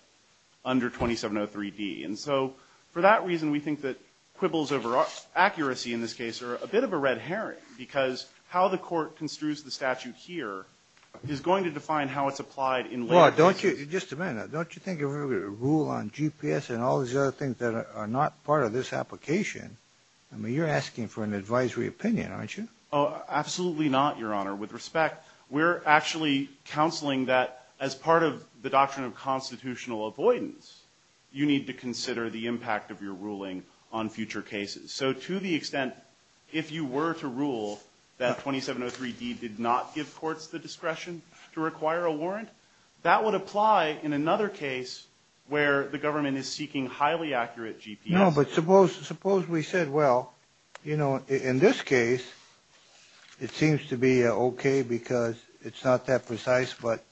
under 2703D. And so for that reason, we think that quibbles over accuracy in this case are a bit of a red herring because how the court construes the statute here is going to define how it's applied in later cases. Just a minute. Don't you think a rule on GPS and all these other things that are not part of this application, I mean, you're asking for an advisory opinion, aren't you? Absolutely not, Your Honor. With respect, we're actually counseling that as part of the doctrine of constitutional avoidance, you need to consider the impact of your ruling on future cases. So to the extent if you were to rule that 2703D did not give courts the discretion to require a warrant, that would apply in another case where the government is seeking highly accurate GPS. No, but suppose we said, well, in this case, it seems to be okay because it's not that precise, but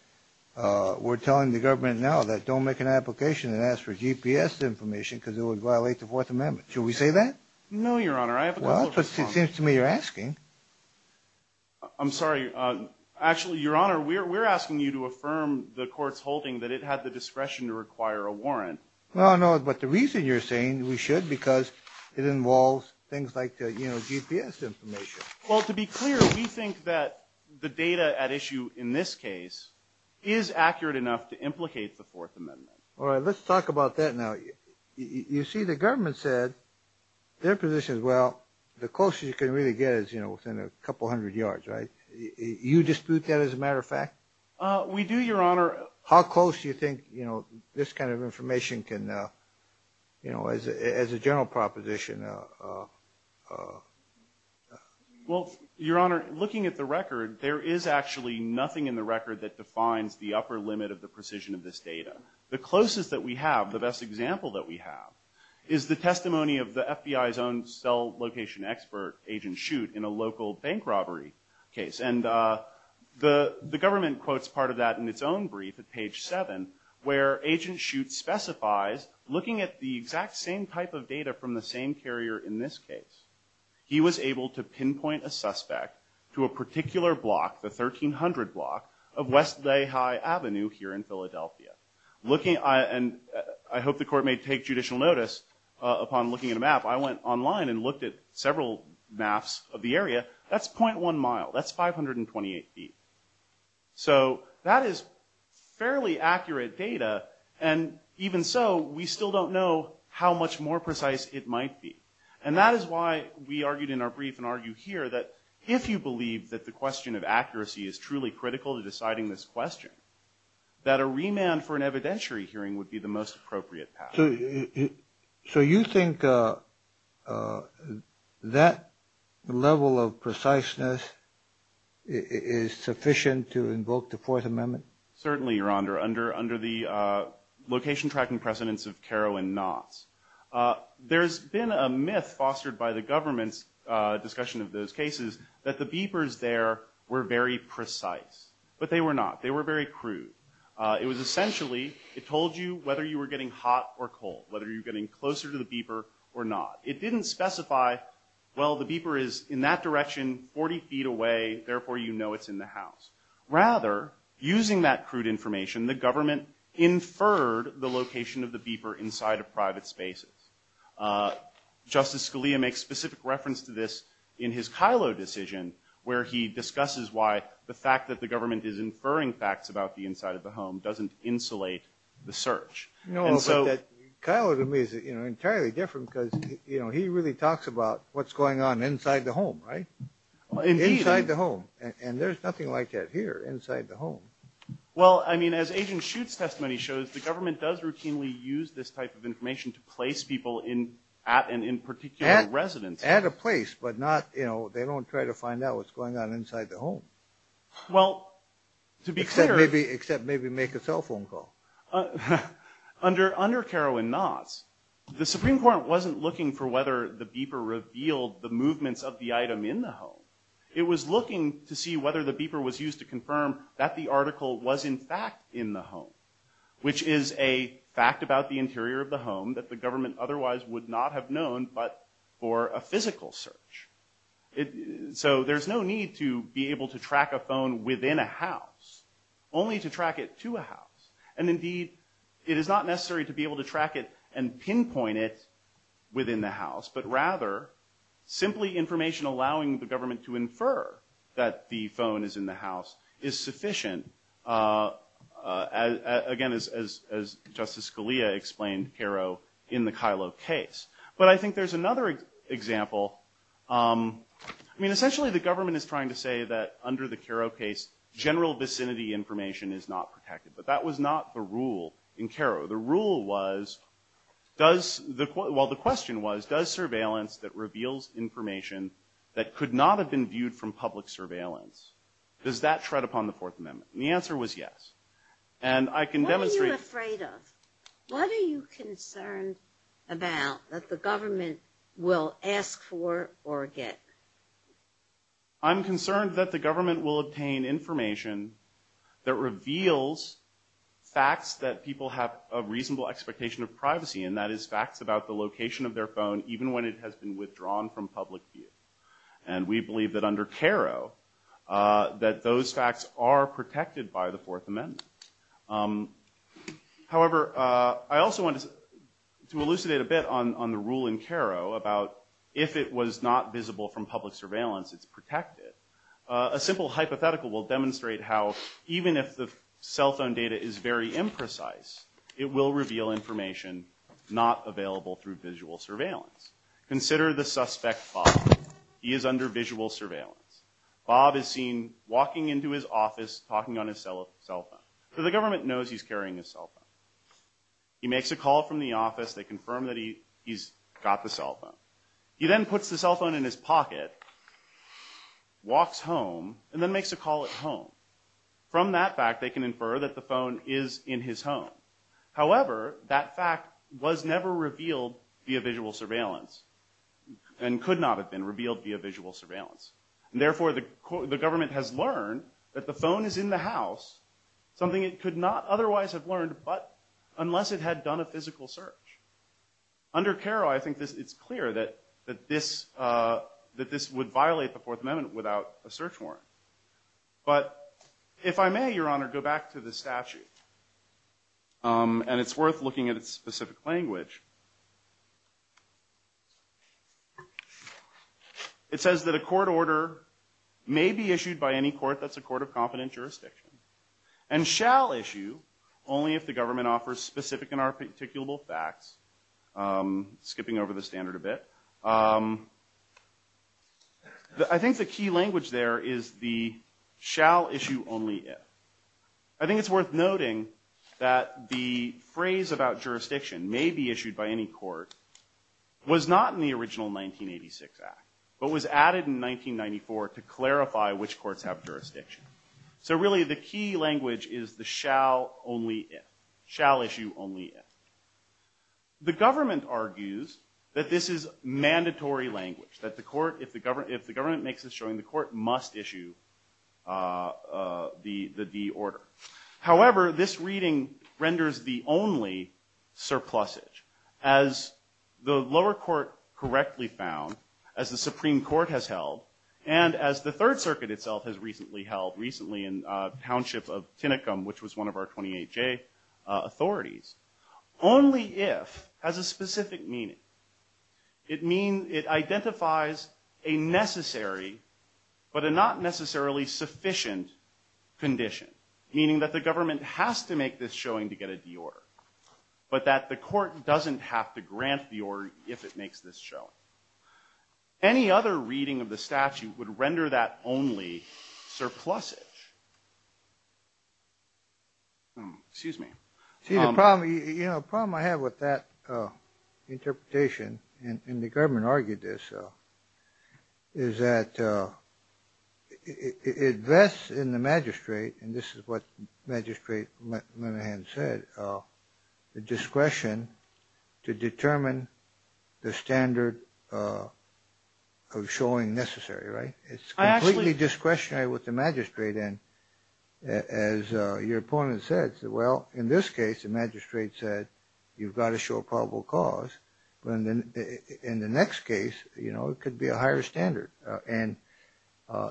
we're telling the government now that don't make an application and ask for GPS information because it would violate the Fourth Amendment. Should we say that? No, Your Honor. Well, it seems to me you're asking. I'm sorry. Actually, Your Honor, we're asking you to affirm the court's holding that it had the discretion to require a warrant. No, no, but the reason you're saying we should because it involves things like the GPS information. Well, to be clear, you think that the data at issue in this case is accurate enough to implicate the Fourth Amendment. All right, let's talk about that now. You see the government said their position is, well, the closest you can really get is within a couple hundred yards, right? You dispute that as a matter of fact? We do, Your Honor. How close do you think this kind of information can, as a general proposition? Well, Your Honor, looking at the record, there is actually nothing in the record that defines the upper limit of the precision of this data. The closest that we have, the best example that we have, is the testimony of the FBI's own cell location expert, Agent Shute, in a local bank robbery case. And the government quotes part of that in its own brief at page 7, where Agent Shute specifies, looking at the exact same type of data from the same carrier in this case, he was able to pinpoint a suspect to a particular block, the 1300 block of West Lehigh Avenue here in Philadelphia. And I hope the court may take judicial notice upon looking at a map. I went online and looked at several maps of the area. That's .1 mile. That's 528 feet. So that is fairly accurate data, and even so, we still don't know how much more precise it might be. And that is why we argued in our brief and argue here that if you believe that the question of accuracy is truly critical to deciding this question, that a remand for an evidentiary hearing would be the most appropriate path. So you think that level of preciseness is sufficient to invoke the Fourth Amendment? Certainly, Your Honor, under the location tracking precedence of Carolyn Knox. There's been a myth fostered by the government's discussion of those cases that the beepers there were very precise. But they were not. They were very crude. It was essentially, it told you whether you were getting hot or cold, whether you were getting closer to the beeper or not. It didn't specify, well, the beeper is in that direction, 40 feet away, therefore you know it's in the house. Rather, using that crude information, the government inferred the location of the beeper inside of private spaces. Justice Scalia makes specific reference to this in his Kylo decision where he discusses why the fact that the government is inferring facts about the inside of the home doesn't insulate the search. No, but Kylo to me is entirely different because he really talks about what's going on inside the home, right? Inside the home. And there's nothing like that here, inside the home. Well, I mean, as Agent Schutz's testimony shows, the government does routinely use this type of information to place people at and in particular residence. At a place, but not, you know, they don't try to find out what's going on inside the home. Well, to be clear. Except maybe make a cell phone call. Under Carolyn Knox, the Supreme Court wasn't looking for whether the beeper revealed the movements of the item in the home. It was looking to see whether the beeper was used to confirm that the article was in fact in the home. Which is a fact about the interior of the home that the government otherwise would not have known but for a physical search. So there's no need to be able to track a phone within a house. And indeed, it is not necessary to be able to track it and pinpoint it within the house. But rather, simply information allowing the government to infer that the phone is in the house is sufficient. Again, as Justice Scalia explained, Cairo in the Kylo case. But I think there's another example. I mean, essentially the government is trying to say that under the Cairo case, general vicinity information is not protected. But that was not the rule in Cairo. The question was, does surveillance that reveals information that could not have been viewed from public surveillance, does that tread upon the Fourth Amendment? And the answer was yes. What are you afraid of? What are you concerned about that the government will ask for or get? I'm concerned that the government will obtain information that reveals facts that people have a reasonable expectation of privacy. And that is facts about the location of their phone, even when it has been withdrawn from public view. And we believe that under Cairo, that those facts are protected by the Fourth Amendment. However, I also wanted to elucidate a bit on the rule in Cairo about if it was not visible from public surveillance, it's protected. A simple hypothetical will demonstrate how even if the cell phone data is very imprecise, it will reveal information not available through visual surveillance. Consider the suspect, Bob. He is under visual surveillance. Bob is seen walking into his office, talking on his cell phone. So the government knows he's carrying his cell phone. He makes a call from the office. They confirm that he's got the cell phone. He then puts the cell phone in his pocket, walks home, and then makes a call at home. From that fact, they can infer that the phone is in his home. However, that fact was never revealed via visual surveillance and could not have been revealed via visual surveillance. Therefore, the government has learned that the phone is in the house, something it could not otherwise have learned but unless it had done a physical search. Under Cairo, I think it's clear that this would violate the Fourth Amendment without a search warrant. But if I may, Your Honor, go back to the statute, and it's worth looking at its specific language. It says that a court order may be issued by any court that's a court of confident jurisdiction and shall issue only if the government offers specific and articulable facts. Skipping over the standard a bit. I think the key language there is the shall issue only if. I think it's worth noting that the phrase about jurisdiction may be issued by any court was not in the original 1986 Act but was added in 1994 to clarify which courts have jurisdiction. So really the key language is the shall only if, shall issue only if. The government argues that this is mandatory language, that if the government makes a showing, the court must issue the D order. However, this reading renders the only surplusage. As the lower court correctly found, as the Supreme Court has held, and as the Third Circuit itself has recently held, recently in Township of Tinicum, which was one of our 28J authorities, only if has a specific meaning. It identifies a necessary but a not necessarily sufficient condition, meaning that the government has to make this showing to get a D order. But that the court doesn't have to grant the order if it makes this showing. Any other reading of the statute would render that only surplusage. Excuse me. The problem I have with that interpretation, and the government argued this, is that it vests in the magistrate, and this is what Magistrate Monahan said, the discretion to determine the standard of showing necessary. It's completely discretionary with the magistrate, and as your opponent said, well, in this case, the magistrate said, you've got to show probable cause. In the next case, it could be a higher standard.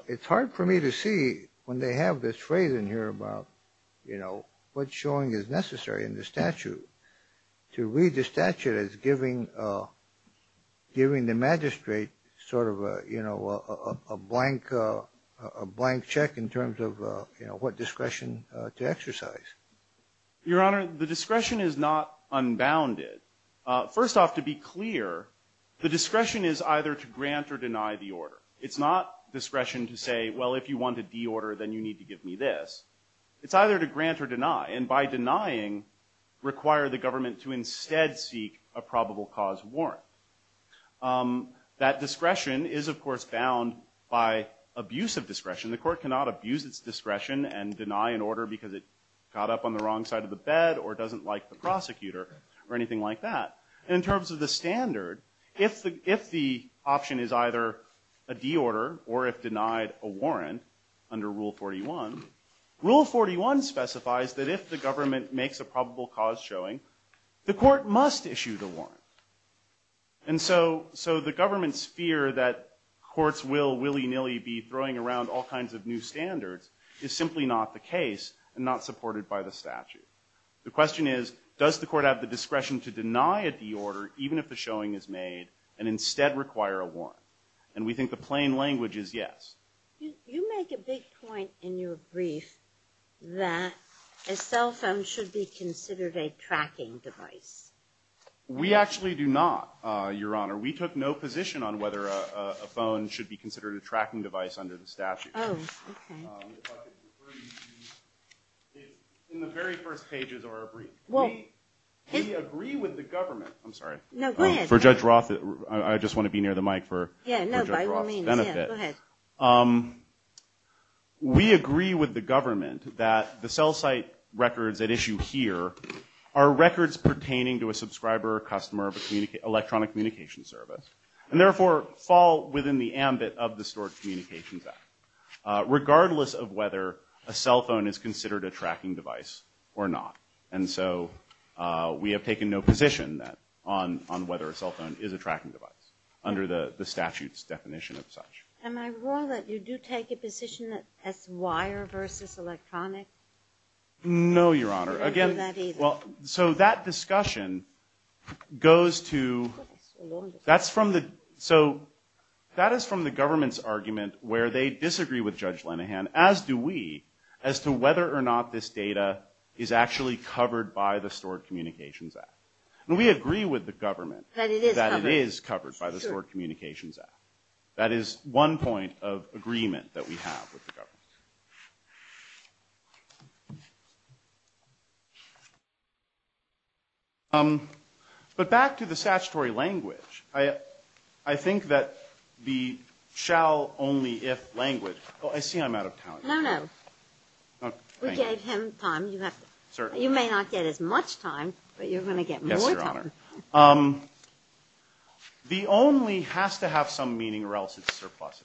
It's hard for me to see, when they have this phrase in here about what showing is necessary in the statute, to read the statute as giving the magistrate sort of a blank check in terms of what discretion to exercise. Your Honor, the discretion is not unbounded. First off, to be clear, the discretion is either to grant or deny the order. It's not discretion to say, well, if you want a D order, then you need to give me this. It's either to grant or deny, and by denying, require the government to instead seek a probable cause warrant. That discretion is, of course, bound by abuse of discretion. The court cannot abuse its discretion and deny an order because it got up on the wrong side of the bed or doesn't like the prosecutor or anything like that. In terms of the standard, if the option is either a D order or if denied a warrant under Rule 41, Rule 41 specifies that if the government makes a probable cause showing, the court must issue the warrant. And so the government's fear that courts will willy-nilly be throwing around all kinds of new standards is simply not the case and not supported by the statute. The question is, does the court have the discretion to deny a D order even if the showing is made and instead require a warrant? And we think the plain language is yes. You make a big point in your brief that a cell phone should be considered a tracking device. We actually do not, Your Honor. We took no position on whether a phone should be considered a tracking device under the statute. Oh, okay. In the very first pages of our brief, we agree with the government. I'm sorry. No, go ahead. For Judge Roth, I just want to be near the mic for Judge Roth's benefit. Yeah, no, go ahead. We agree with the government that the cell site records at issue here are records pertaining to a subscriber or customer of an electronic communication service and therefore fall within the ambit of the Storage Communication Act, regardless of whether a cell phone is considered a tracking device or not. And so we have taken no position on whether a cell phone is a tracking device under the statute's definition of such. Am I wrong that you do take a position that it's wire versus electronic? No, Your Honor. Well, so that discussion goes to – that's from the – so that is from the government's argument where they disagree with Judge Lenihan, as do we, as to whether or not this data is actually covered by the Storage Communications Act. And we agree with the government that it is covered by the Storage Communications Act. That is one point of agreement that we have with the government. But back to the statutory language, I think that the shall, only if language – oh, I see I'm out of time. No, no. Oh, thank you. We gave him time. You may not get as much time, but you're going to get more time. Yes, Your Honor. The only has to have some meaning or else it's surplus.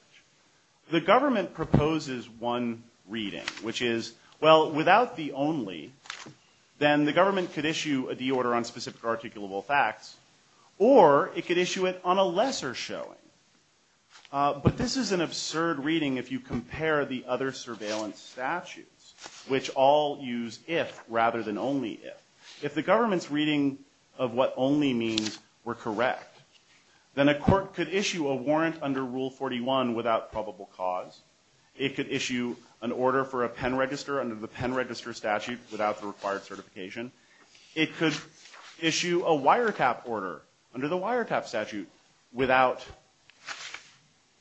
The government proposes one reading, which is, well, without the only, then the government could issue a deorder on specific articulable facts, or it could issue it on a lesser showing. But this is an absurd reading if you compare the other surveillance statutes, which all use if rather than only if. If the government's reading of what only means were correct, then a court could issue a warrant under Rule 41 without probable cause. It could issue an order for a pen register under the pen register statute without the required certification. It could issue a wiretap order under the wiretap statute without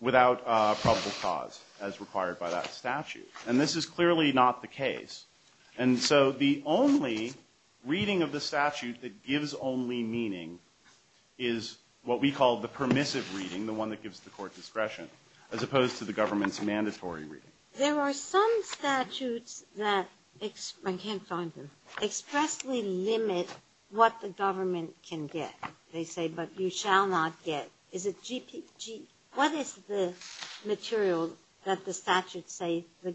probable cause as required by that statute. And this is clearly not the case. And so the only reading of the statute that gives only meaning is what we call the permissive reading, the one that gives the court discretion, as opposed to the government's mandatory reading. There are some statutes that expressly limit what the government can get. They say, but you shall not get. What is the material that the statute says the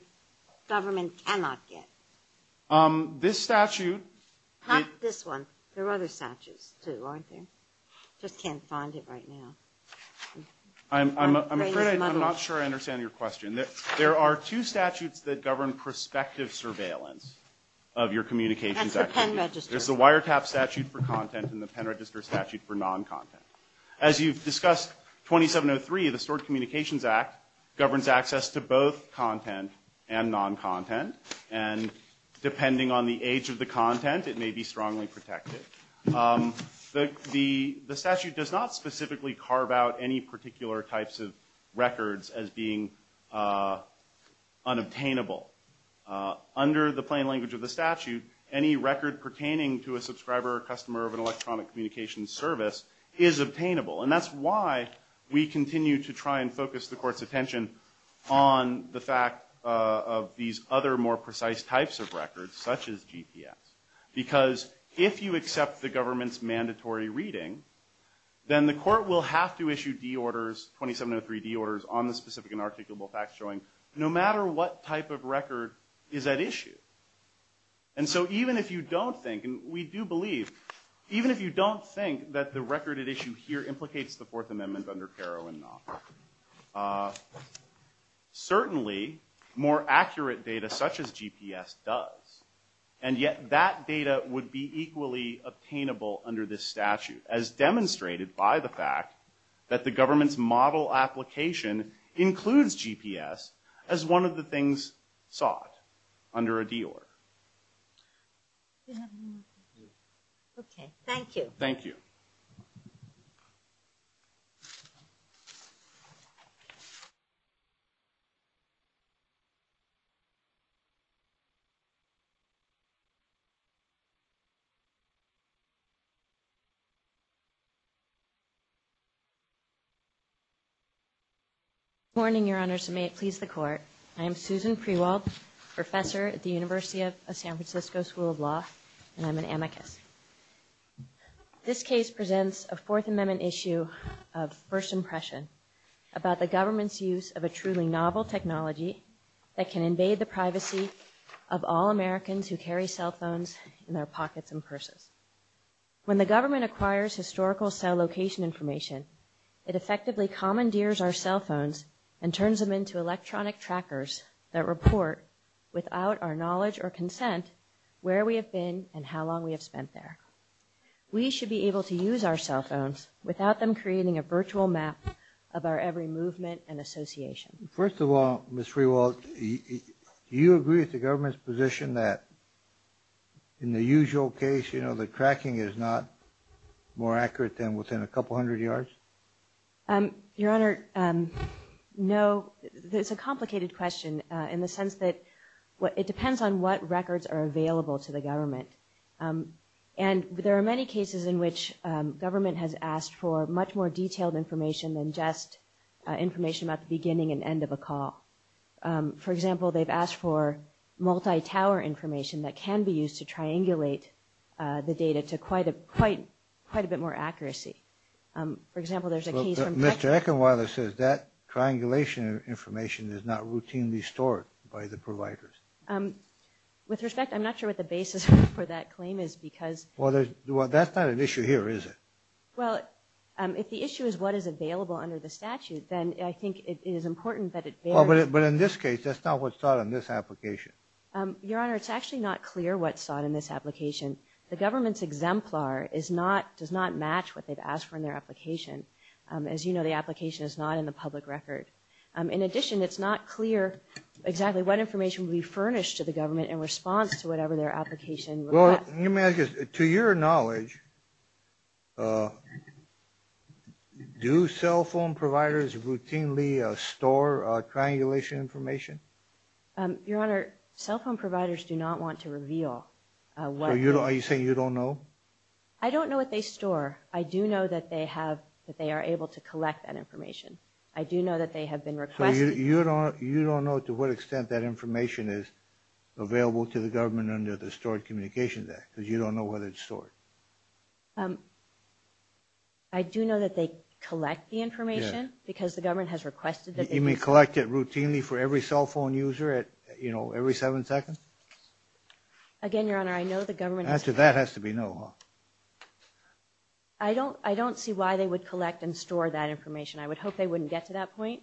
government cannot get? This statute. Not this one. There are other statutes too, aren't there? I just can't find it right now. I'm afraid I'm not sure I understand your question. There are two statutes that govern prospective surveillance of your communications activities. And the pen register. There's the wiretap statute for content and the pen register statute for non-content. As you've discussed, 2703 of the Stored Communications Act governs access to both content and non-content. And depending on the age of the content, it may be strongly protected. The statute does not specifically carve out any particular types of records as being unobtainable. Under the plain language of the statute, any record pertaining to a subscriber or customer of an electronic communications service is obtainable. And that's why we continue to try and focus the court's attention on the fact of these other more precise types of records, such as GPS. Because if you accept the government's mandatory reading, then the court will have to issue de-orders, 2703 de-orders, on the specific and articulable facts showing no matter what type of record is at issue. And so even if you don't think, and we do believe, even if you don't think that the record at issue here implicates the Fourth Amendment under Carroll and Knox, certainly more accurate data such as GPS does. And yet that data would be equally obtainable under this statute, as demonstrated by the fact that the government's model application includes GPS as one of the things sought under a de-order. Okay, thank you. Thank you. Good morning, Your Honors, and may it please the Court. I am Susan Prewalt, professor at the University of San Francisco School of Law, and I'm an amicus. This case presents a Fourth Amendment issue of first impression about the government's use of a truly novel technology that can invade the privacy of all Americans who carry cell phones in their pockets in person. When the government acquires historical cell location information, it effectively commandeers our cell phones and turns them into electronic trackers that report, without our knowledge or consent, where we have been and how long we have spent there. We should be able to use our cell phones without them creating a virtual map of our every movement and association. First of all, Ms. Prewalt, do you agree with the government's position that in the usual case, you know, the tracking is not more accurate than within a couple hundred yards? Your Honor, no. It's a complicated question in the sense that it depends on what records are available to the government. And there are many cases in which government has asked for much more detailed information than just information about the beginning and end of a call. For example, they've asked for multi-tower information that can be used to triangulate the data to quite a bit more accuracy. For example, there's a case from Texas. Mr. Eckenwalder says that triangulation information is not routinely stored by the providers. With respect, I'm not sure what the basis for that claim is because… Well, that's not an issue here, is it? Well, if the issue is what is available under the statute, then I think it is important that it… Well, but in this case, that's not what's sought in this application. Your Honor, it's actually not clear what's sought in this application. The government's exemplar does not match what they've asked for in their application. As you know, the application is not in the public record. In addition, it's not clear exactly what information will be furnished to the government in response to whatever their application… Well, let me ask you this. To your knowledge, do cell phone providers routinely store triangulation information? Your Honor, cell phone providers do not want to reveal what… Are you saying you don't know? I don't know what they store. I do know that they are able to collect that information. I do know that they have been requested… You don't know to what extent that information is available to the government under the Stored Communications Act, because you don't know whether it's stored. I do know that they collect the information, because the government has requested that they… You mean collect it routinely for every cell phone user at, you know, every seven seconds? Again, Your Honor, I know the government… Answer that has to be no, huh? I don't see why they would collect and store that information. I would hope they wouldn't get to that point.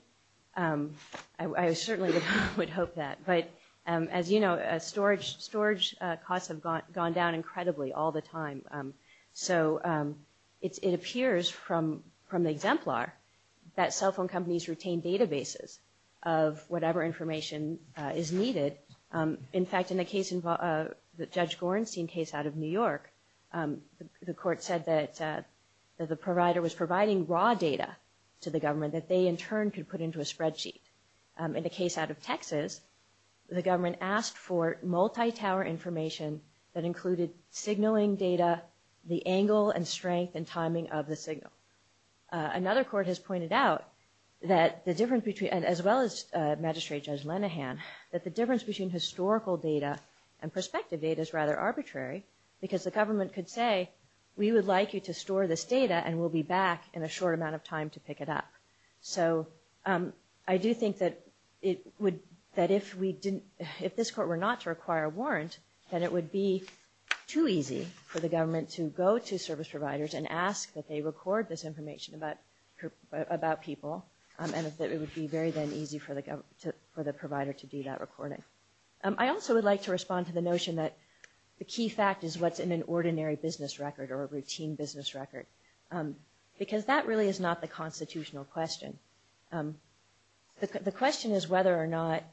I certainly would hope that. But, as you know, storage costs have gone down incredibly all the time. So it appears from the exemplar that cell phone companies retain databases of whatever information is needed. In fact, in the case involving Judge Gorenstein case out of New York, the court said that the provider was providing raw data to the government that they, in turn, could put into a spreadsheet. In the case out of Texas, the government asked for multi-tower information that included signaling data, the angle and strength and timing of the signal. Another court has pointed out that the difference between – as well as Magistrate Judge Lenihan – that the difference between historical data and prospective data is rather arbitrary, because the government could say, we would like you to store this data, and we'll be back in a short amount of time to pick it up. So I do think that it would – that if we didn't – if this court were not to require a warrant, then it would be too easy for the government to go to service providers and ask that they record this information about people, and it would be very, then, easy for the provider to do that recording. I also would like to respond to the notion that the key fact is what's in an ordinary business record or a routine business record, because that really is not the constitutional question. The question is whether or not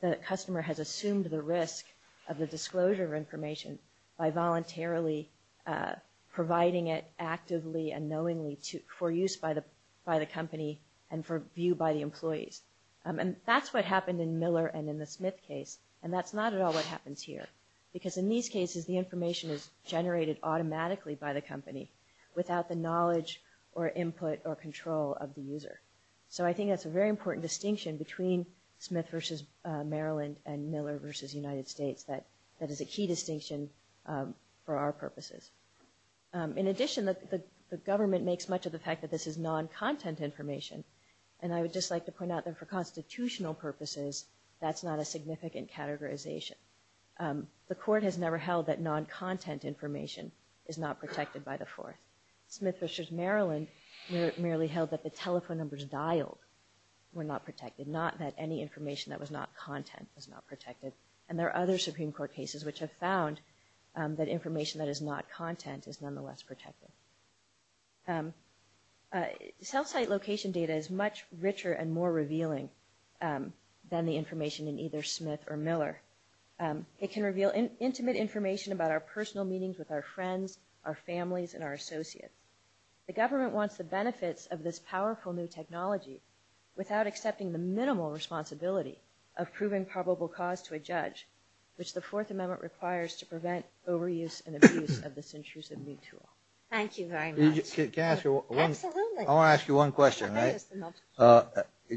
the customer has assumed the risk of the disclosure of information by voluntarily providing it actively and knowingly for use by the company and for view by the employees. And that's what happened in Miller and in the Smith case, and that's not at all what happens here. Because in these cases, the information is generated automatically by the company without the knowledge or input or control of the user. So I think that's a very important distinction between Smith v. Maryland and Miller v. United States that is a key distinction for our purposes. In addition, the government makes much of the fact that this is non-content information, and I would just like to point out that for constitutional purposes, that's not a significant categorization. The court has never held that non-content information is not protected by the force. Smith v. Maryland merely held that the telephone numbers dialed were not protected, not that any information that was not content was not protected. And there are other Supreme Court cases which have found that information that is not content is nonetheless protected. Cell site location data is much richer and more revealing than the information in either Smith or Miller. It can reveal intimate information about our personal meetings with our friends, our families, and our associates. The government wants the benefits of this powerful new technology without accepting the minimal responsibility of proving probable cause to a judge, which the Fourth Amendment requires to prevent overuse and abuse of this intrusive new tool. Thank you very much. I want to ask you one question, right?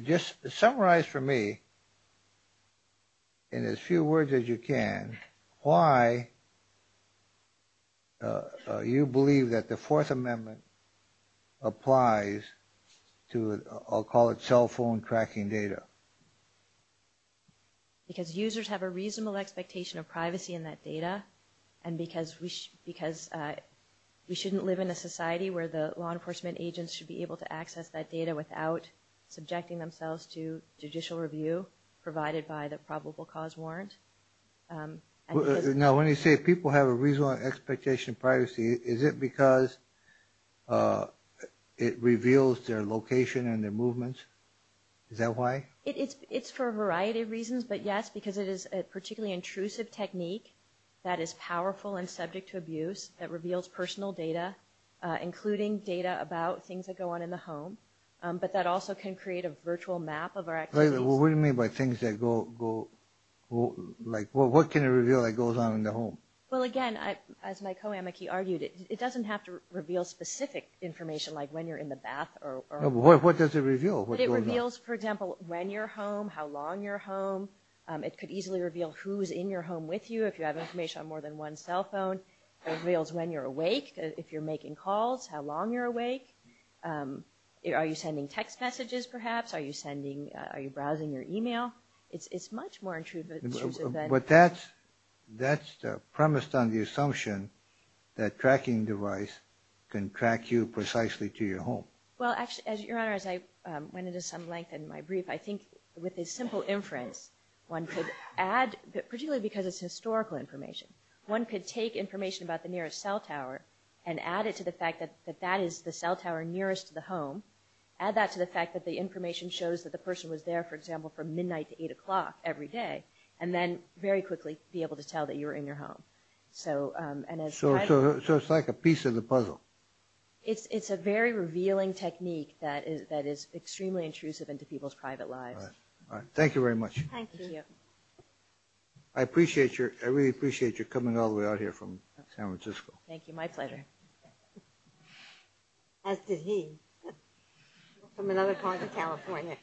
Just summarize for me, in as few words as you can, why you believe that the Fourth Amendment applies to, I'll call it, cell phone tracking data. Because users have a reasonable expectation of privacy in that data, and because we shouldn't live in a society where the law enforcement agents should be able to access that data without subjecting themselves to judicial review provided by the probable cause warrant. Now, when you say people have a reasonable expectation of privacy, is it because it reveals their location and their movements? Is that why? It's for a variety of reasons, but yes, because it is a particularly intrusive technique that is powerful and subject to abuse, that reveals personal data, including data about things that go on in the home, but that also can create a virtual map of our activities. Wait a minute. What do you mean by things that go, like, what can it reveal that goes on in the home? Well, again, as my co-amic, he argued, it doesn't have to reveal specific information, like when you're in the bath or... What does it reveal? What goes on? It reveals, for example, when you're home, how long you're home. It could easily reveal who's in your home with you. It could have information on more than one cell phone. It reveals when you're awake, if you're making calls, how long you're awake. Are you sending text messages, perhaps? Are you browsing your email? It's much more intrusive than... But that's premised on the assumption that a tracking device can track you precisely to your home. Well, actually, Your Honor, as I went into some length in my brief, I think with a simple imprint, one could add, particularly because it's historical information, one could take information about the nearest cell tower and add it to the fact that that is the cell tower nearest the home, add that to the fact that the information shows that the person was there, for example, from midnight to 8 o'clock every day, and then very quickly be able to tell that you were in your home. So it's like a piece of the puzzle. It's a very revealing technique that is extremely intrusive into people's private lives. All right. Thank you very much. Thank you. I appreciate your... I really appreciate your coming all the way out here from San Francisco. Thank you. My pleasure. As did he, from another part of California.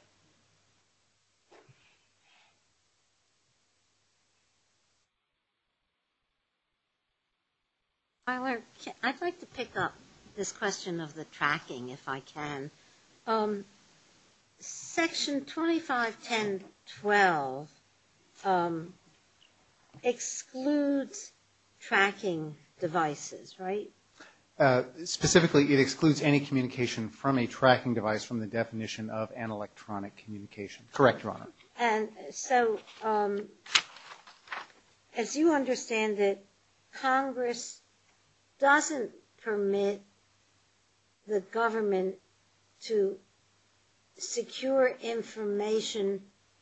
Tyler, I'd like to pick up this question of the tracking, if I can. Section 2510.12 excludes tracking devices, right? Specifically, it excludes any communication from a tracking device from the definition of an electronic communication. Correct, Your Honor. And so, as you understand it, Congress doesn't permit the government to secure information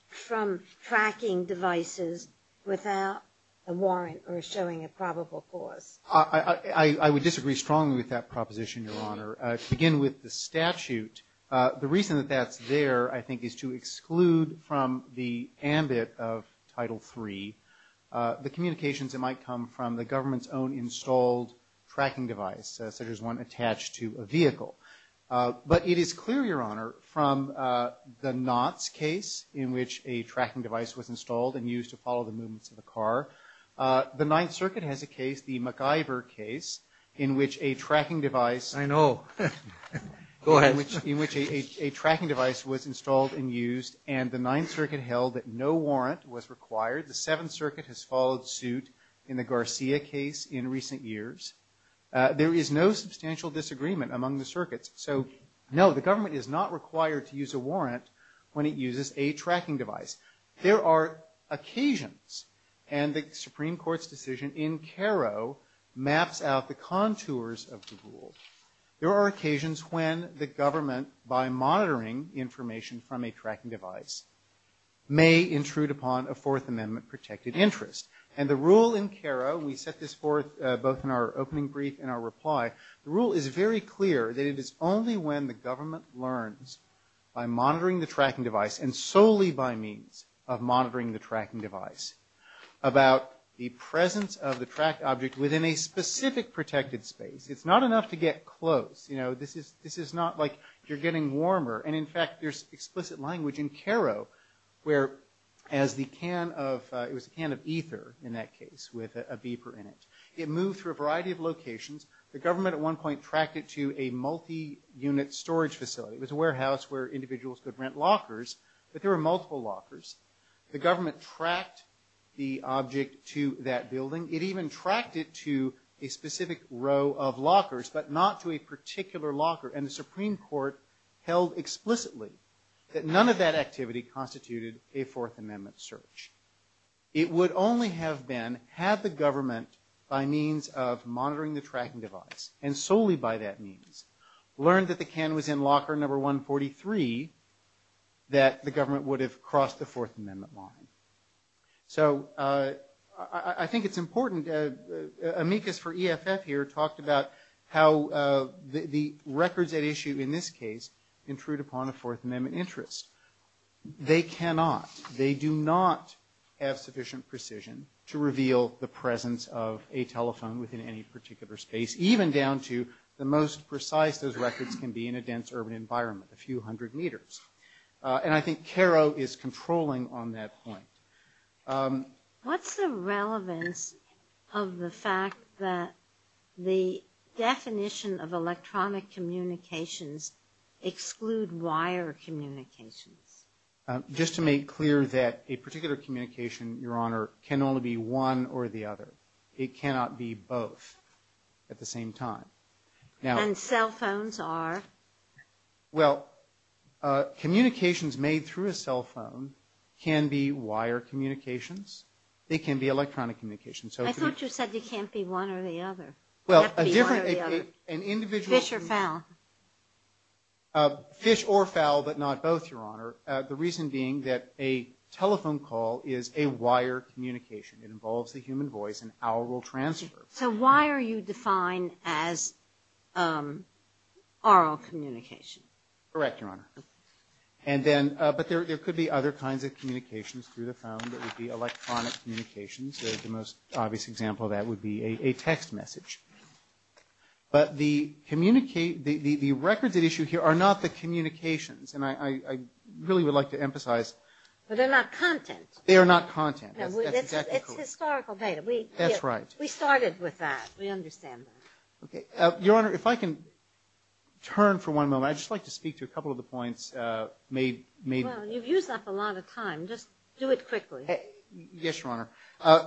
from tracking devices without a warrant or showing a probable cause. I would disagree strongly with that proposition, Your Honor. To begin with the statute, the reason that that's there, I think, is to exclude from the ambit of Title III the communications that might come from the government's own installed tracking device, such as one attached to a vehicle. But it is clear, Your Honor, from the Knott case, in which a tracking device was installed and used to follow the movements of a car, the Ninth Circuit has a case, the MacGyver case, in which a tracking device... I know. Go ahead. ...in which a tracking device was installed and used, and the Ninth Circuit held that no warrant was required. The Seventh Circuit has followed suit in the Garcia case in recent years. There is no substantial disagreement among the circuits. So, no, the government is not required to use a warrant when it uses a tracking device. There are occasions, and the Supreme Court's decision in Cairo maps out the contours of the rule. There are occasions when the government, by monitoring information from a tracking device, may intrude upon a Fourth Amendment protected interest. And the rule in Cairo, we set this forth both in our opening brief and our reply, the rule is very clear that it is only when the government learns, by monitoring the tracking device and solely by means of monitoring the tracking device, about the presence of the tracked object within a specific protected space. It's not enough to get close. This is not like you're getting warmer. And, in fact, there's explicit language in Cairo where, as the can of... it was a can of ether, in that case, with a beeper in it. It moved through a variety of locations. The government, at one point, tracked it to a multi-unit storage facility. It was a warehouse where individuals could rent lockers, but there were multiple lockers. The government tracked the object to that building. It even tracked it to a specific row of lockers, but not to a particular locker. And the Supreme Court held explicitly that none of that activity constituted a Fourth Amendment search. It would only have been had the government, by means of monitoring the tracking device, and solely by that means, learned that the can was in locker number 143, that the government would have crossed the Fourth Amendment line. So, I think it's important. Amicus for EFF here talked about how the records that issue, in this case, intrude upon a Fourth Amendment interest. They cannot, they do not have sufficient precision to reveal the presence of a telephone within any particular space, even down to the most precise those records can be in a dense urban environment, a few hundred meters. And I think CARO is controlling on that point. What's the relevance of the fact that the definition of electronic communications exclude wire communications? Just to make clear that a particular communication, Your Honor, can only be one or the other. It cannot be both at the same time. And cell phones are? Well, communications made through a cell phone can be wire communications. It can be electronic communications. I thought you said it can't be one or the other. Well, an individual… Fish or fowl. Fish or fowl, but not both, Your Honor. The reason being that a telephone call is a wire communication. It involves the human voice and our oral transfer. So wire you define as oral communication? Correct, Your Honor. But there could be other kinds of communications through the phone. There would be electronic communications. The most obvious example of that would be a text message. But the record that issue here are not the communications. And I really would like to emphasize… But they're not content. They are not content. It's historical data. That's right. We started with that. We understand that. Okay. Your Honor, if I can turn for one moment. I'd just like to speak to a couple of the points made. Well, you've used up a lot of time. Just do it quickly. Yes, Your Honor.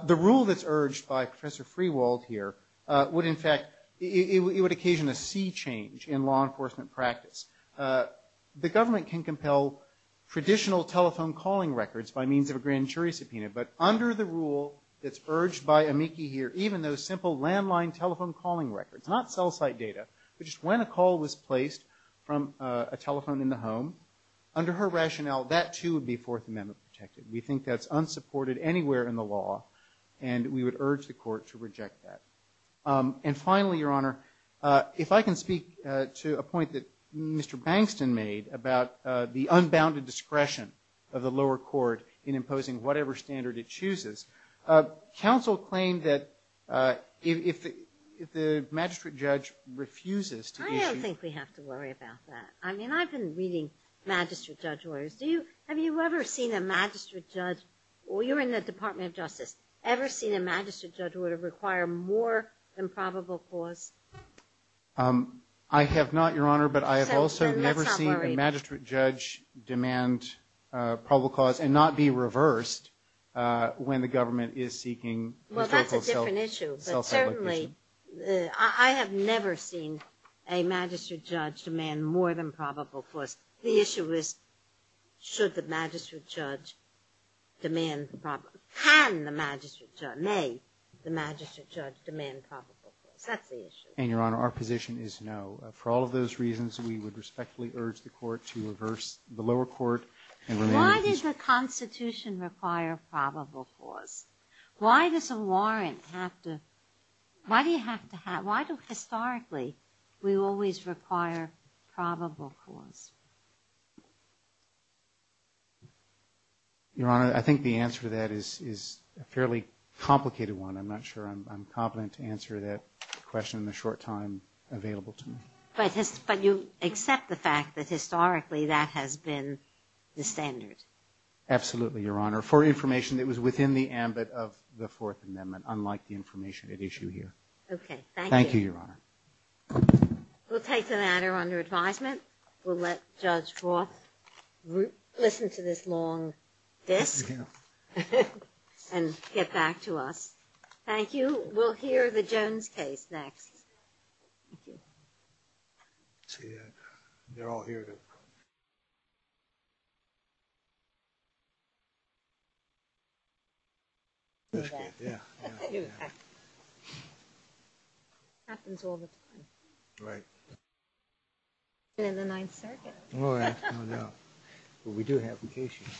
The rule that's urged by Professor Freewald here would, in fact, it would occasion a sea change in law enforcement practice. The government can compel traditional telephone calling records by means of a grand jury subpoena. But under the rule that's urged by Amiki here, even though a simple landline telephone calling record, not cell site data, but just when a call was placed from a telephone in the home, under her rationale, that, too, would be Fourth Amendment protected. We think that's unsupported anywhere in the law, and we would urge the Court to reject that. And finally, Your Honor, if I can speak to a point that Mr. Bankston made about the unbounded discretion of the lower court in imposing whatever standard it chooses, counsel claimed that if the magistrate judge refuses to issue – I don't think we have to worry about that. I mean, I've been reading magistrate judge orders. Have you ever seen a magistrate judge – well, you're in the Department of Justice. Ever seen a magistrate judge who would require more than probable cause? I have not, Your Honor, but I have also never seen a magistrate judge demand probable cause and not be reversed when the government is seeking – Well, that's a different issue. Certainly, I have never seen a magistrate judge demand more than probable cause. The issue is should the magistrate judge demand probable – can the magistrate judge – may the magistrate judge demand probable cause. That's the issue. And, Your Honor, our position is no. For all of those reasons, we would respectfully urge the Court to reverse the lower court and remain – Why does the Constitution require probable cause? Why does a warrant have to – why do you have to have – why do historically we always require probable cause? Your Honor, I think the answer to that is a fairly complicated one. I'm not sure I'm competent to answer that question in the short time available to me. But you accept the fact that historically that has been the standard? Absolutely, Your Honor. For information that was within the ambit of the Fourth Amendment, unlike the information at issue here. Okay. Thank you. Thank you, Your Honor. We'll take the matter under advisement. We'll let Judge Roth listen to this long dish and get back to us. Thank you. We'll hear the Jones case next. See you. They're all here. Yeah. Happens all the time. Right. We're in the Ninth Circuit. Well, that's coming up. But we do have vacations.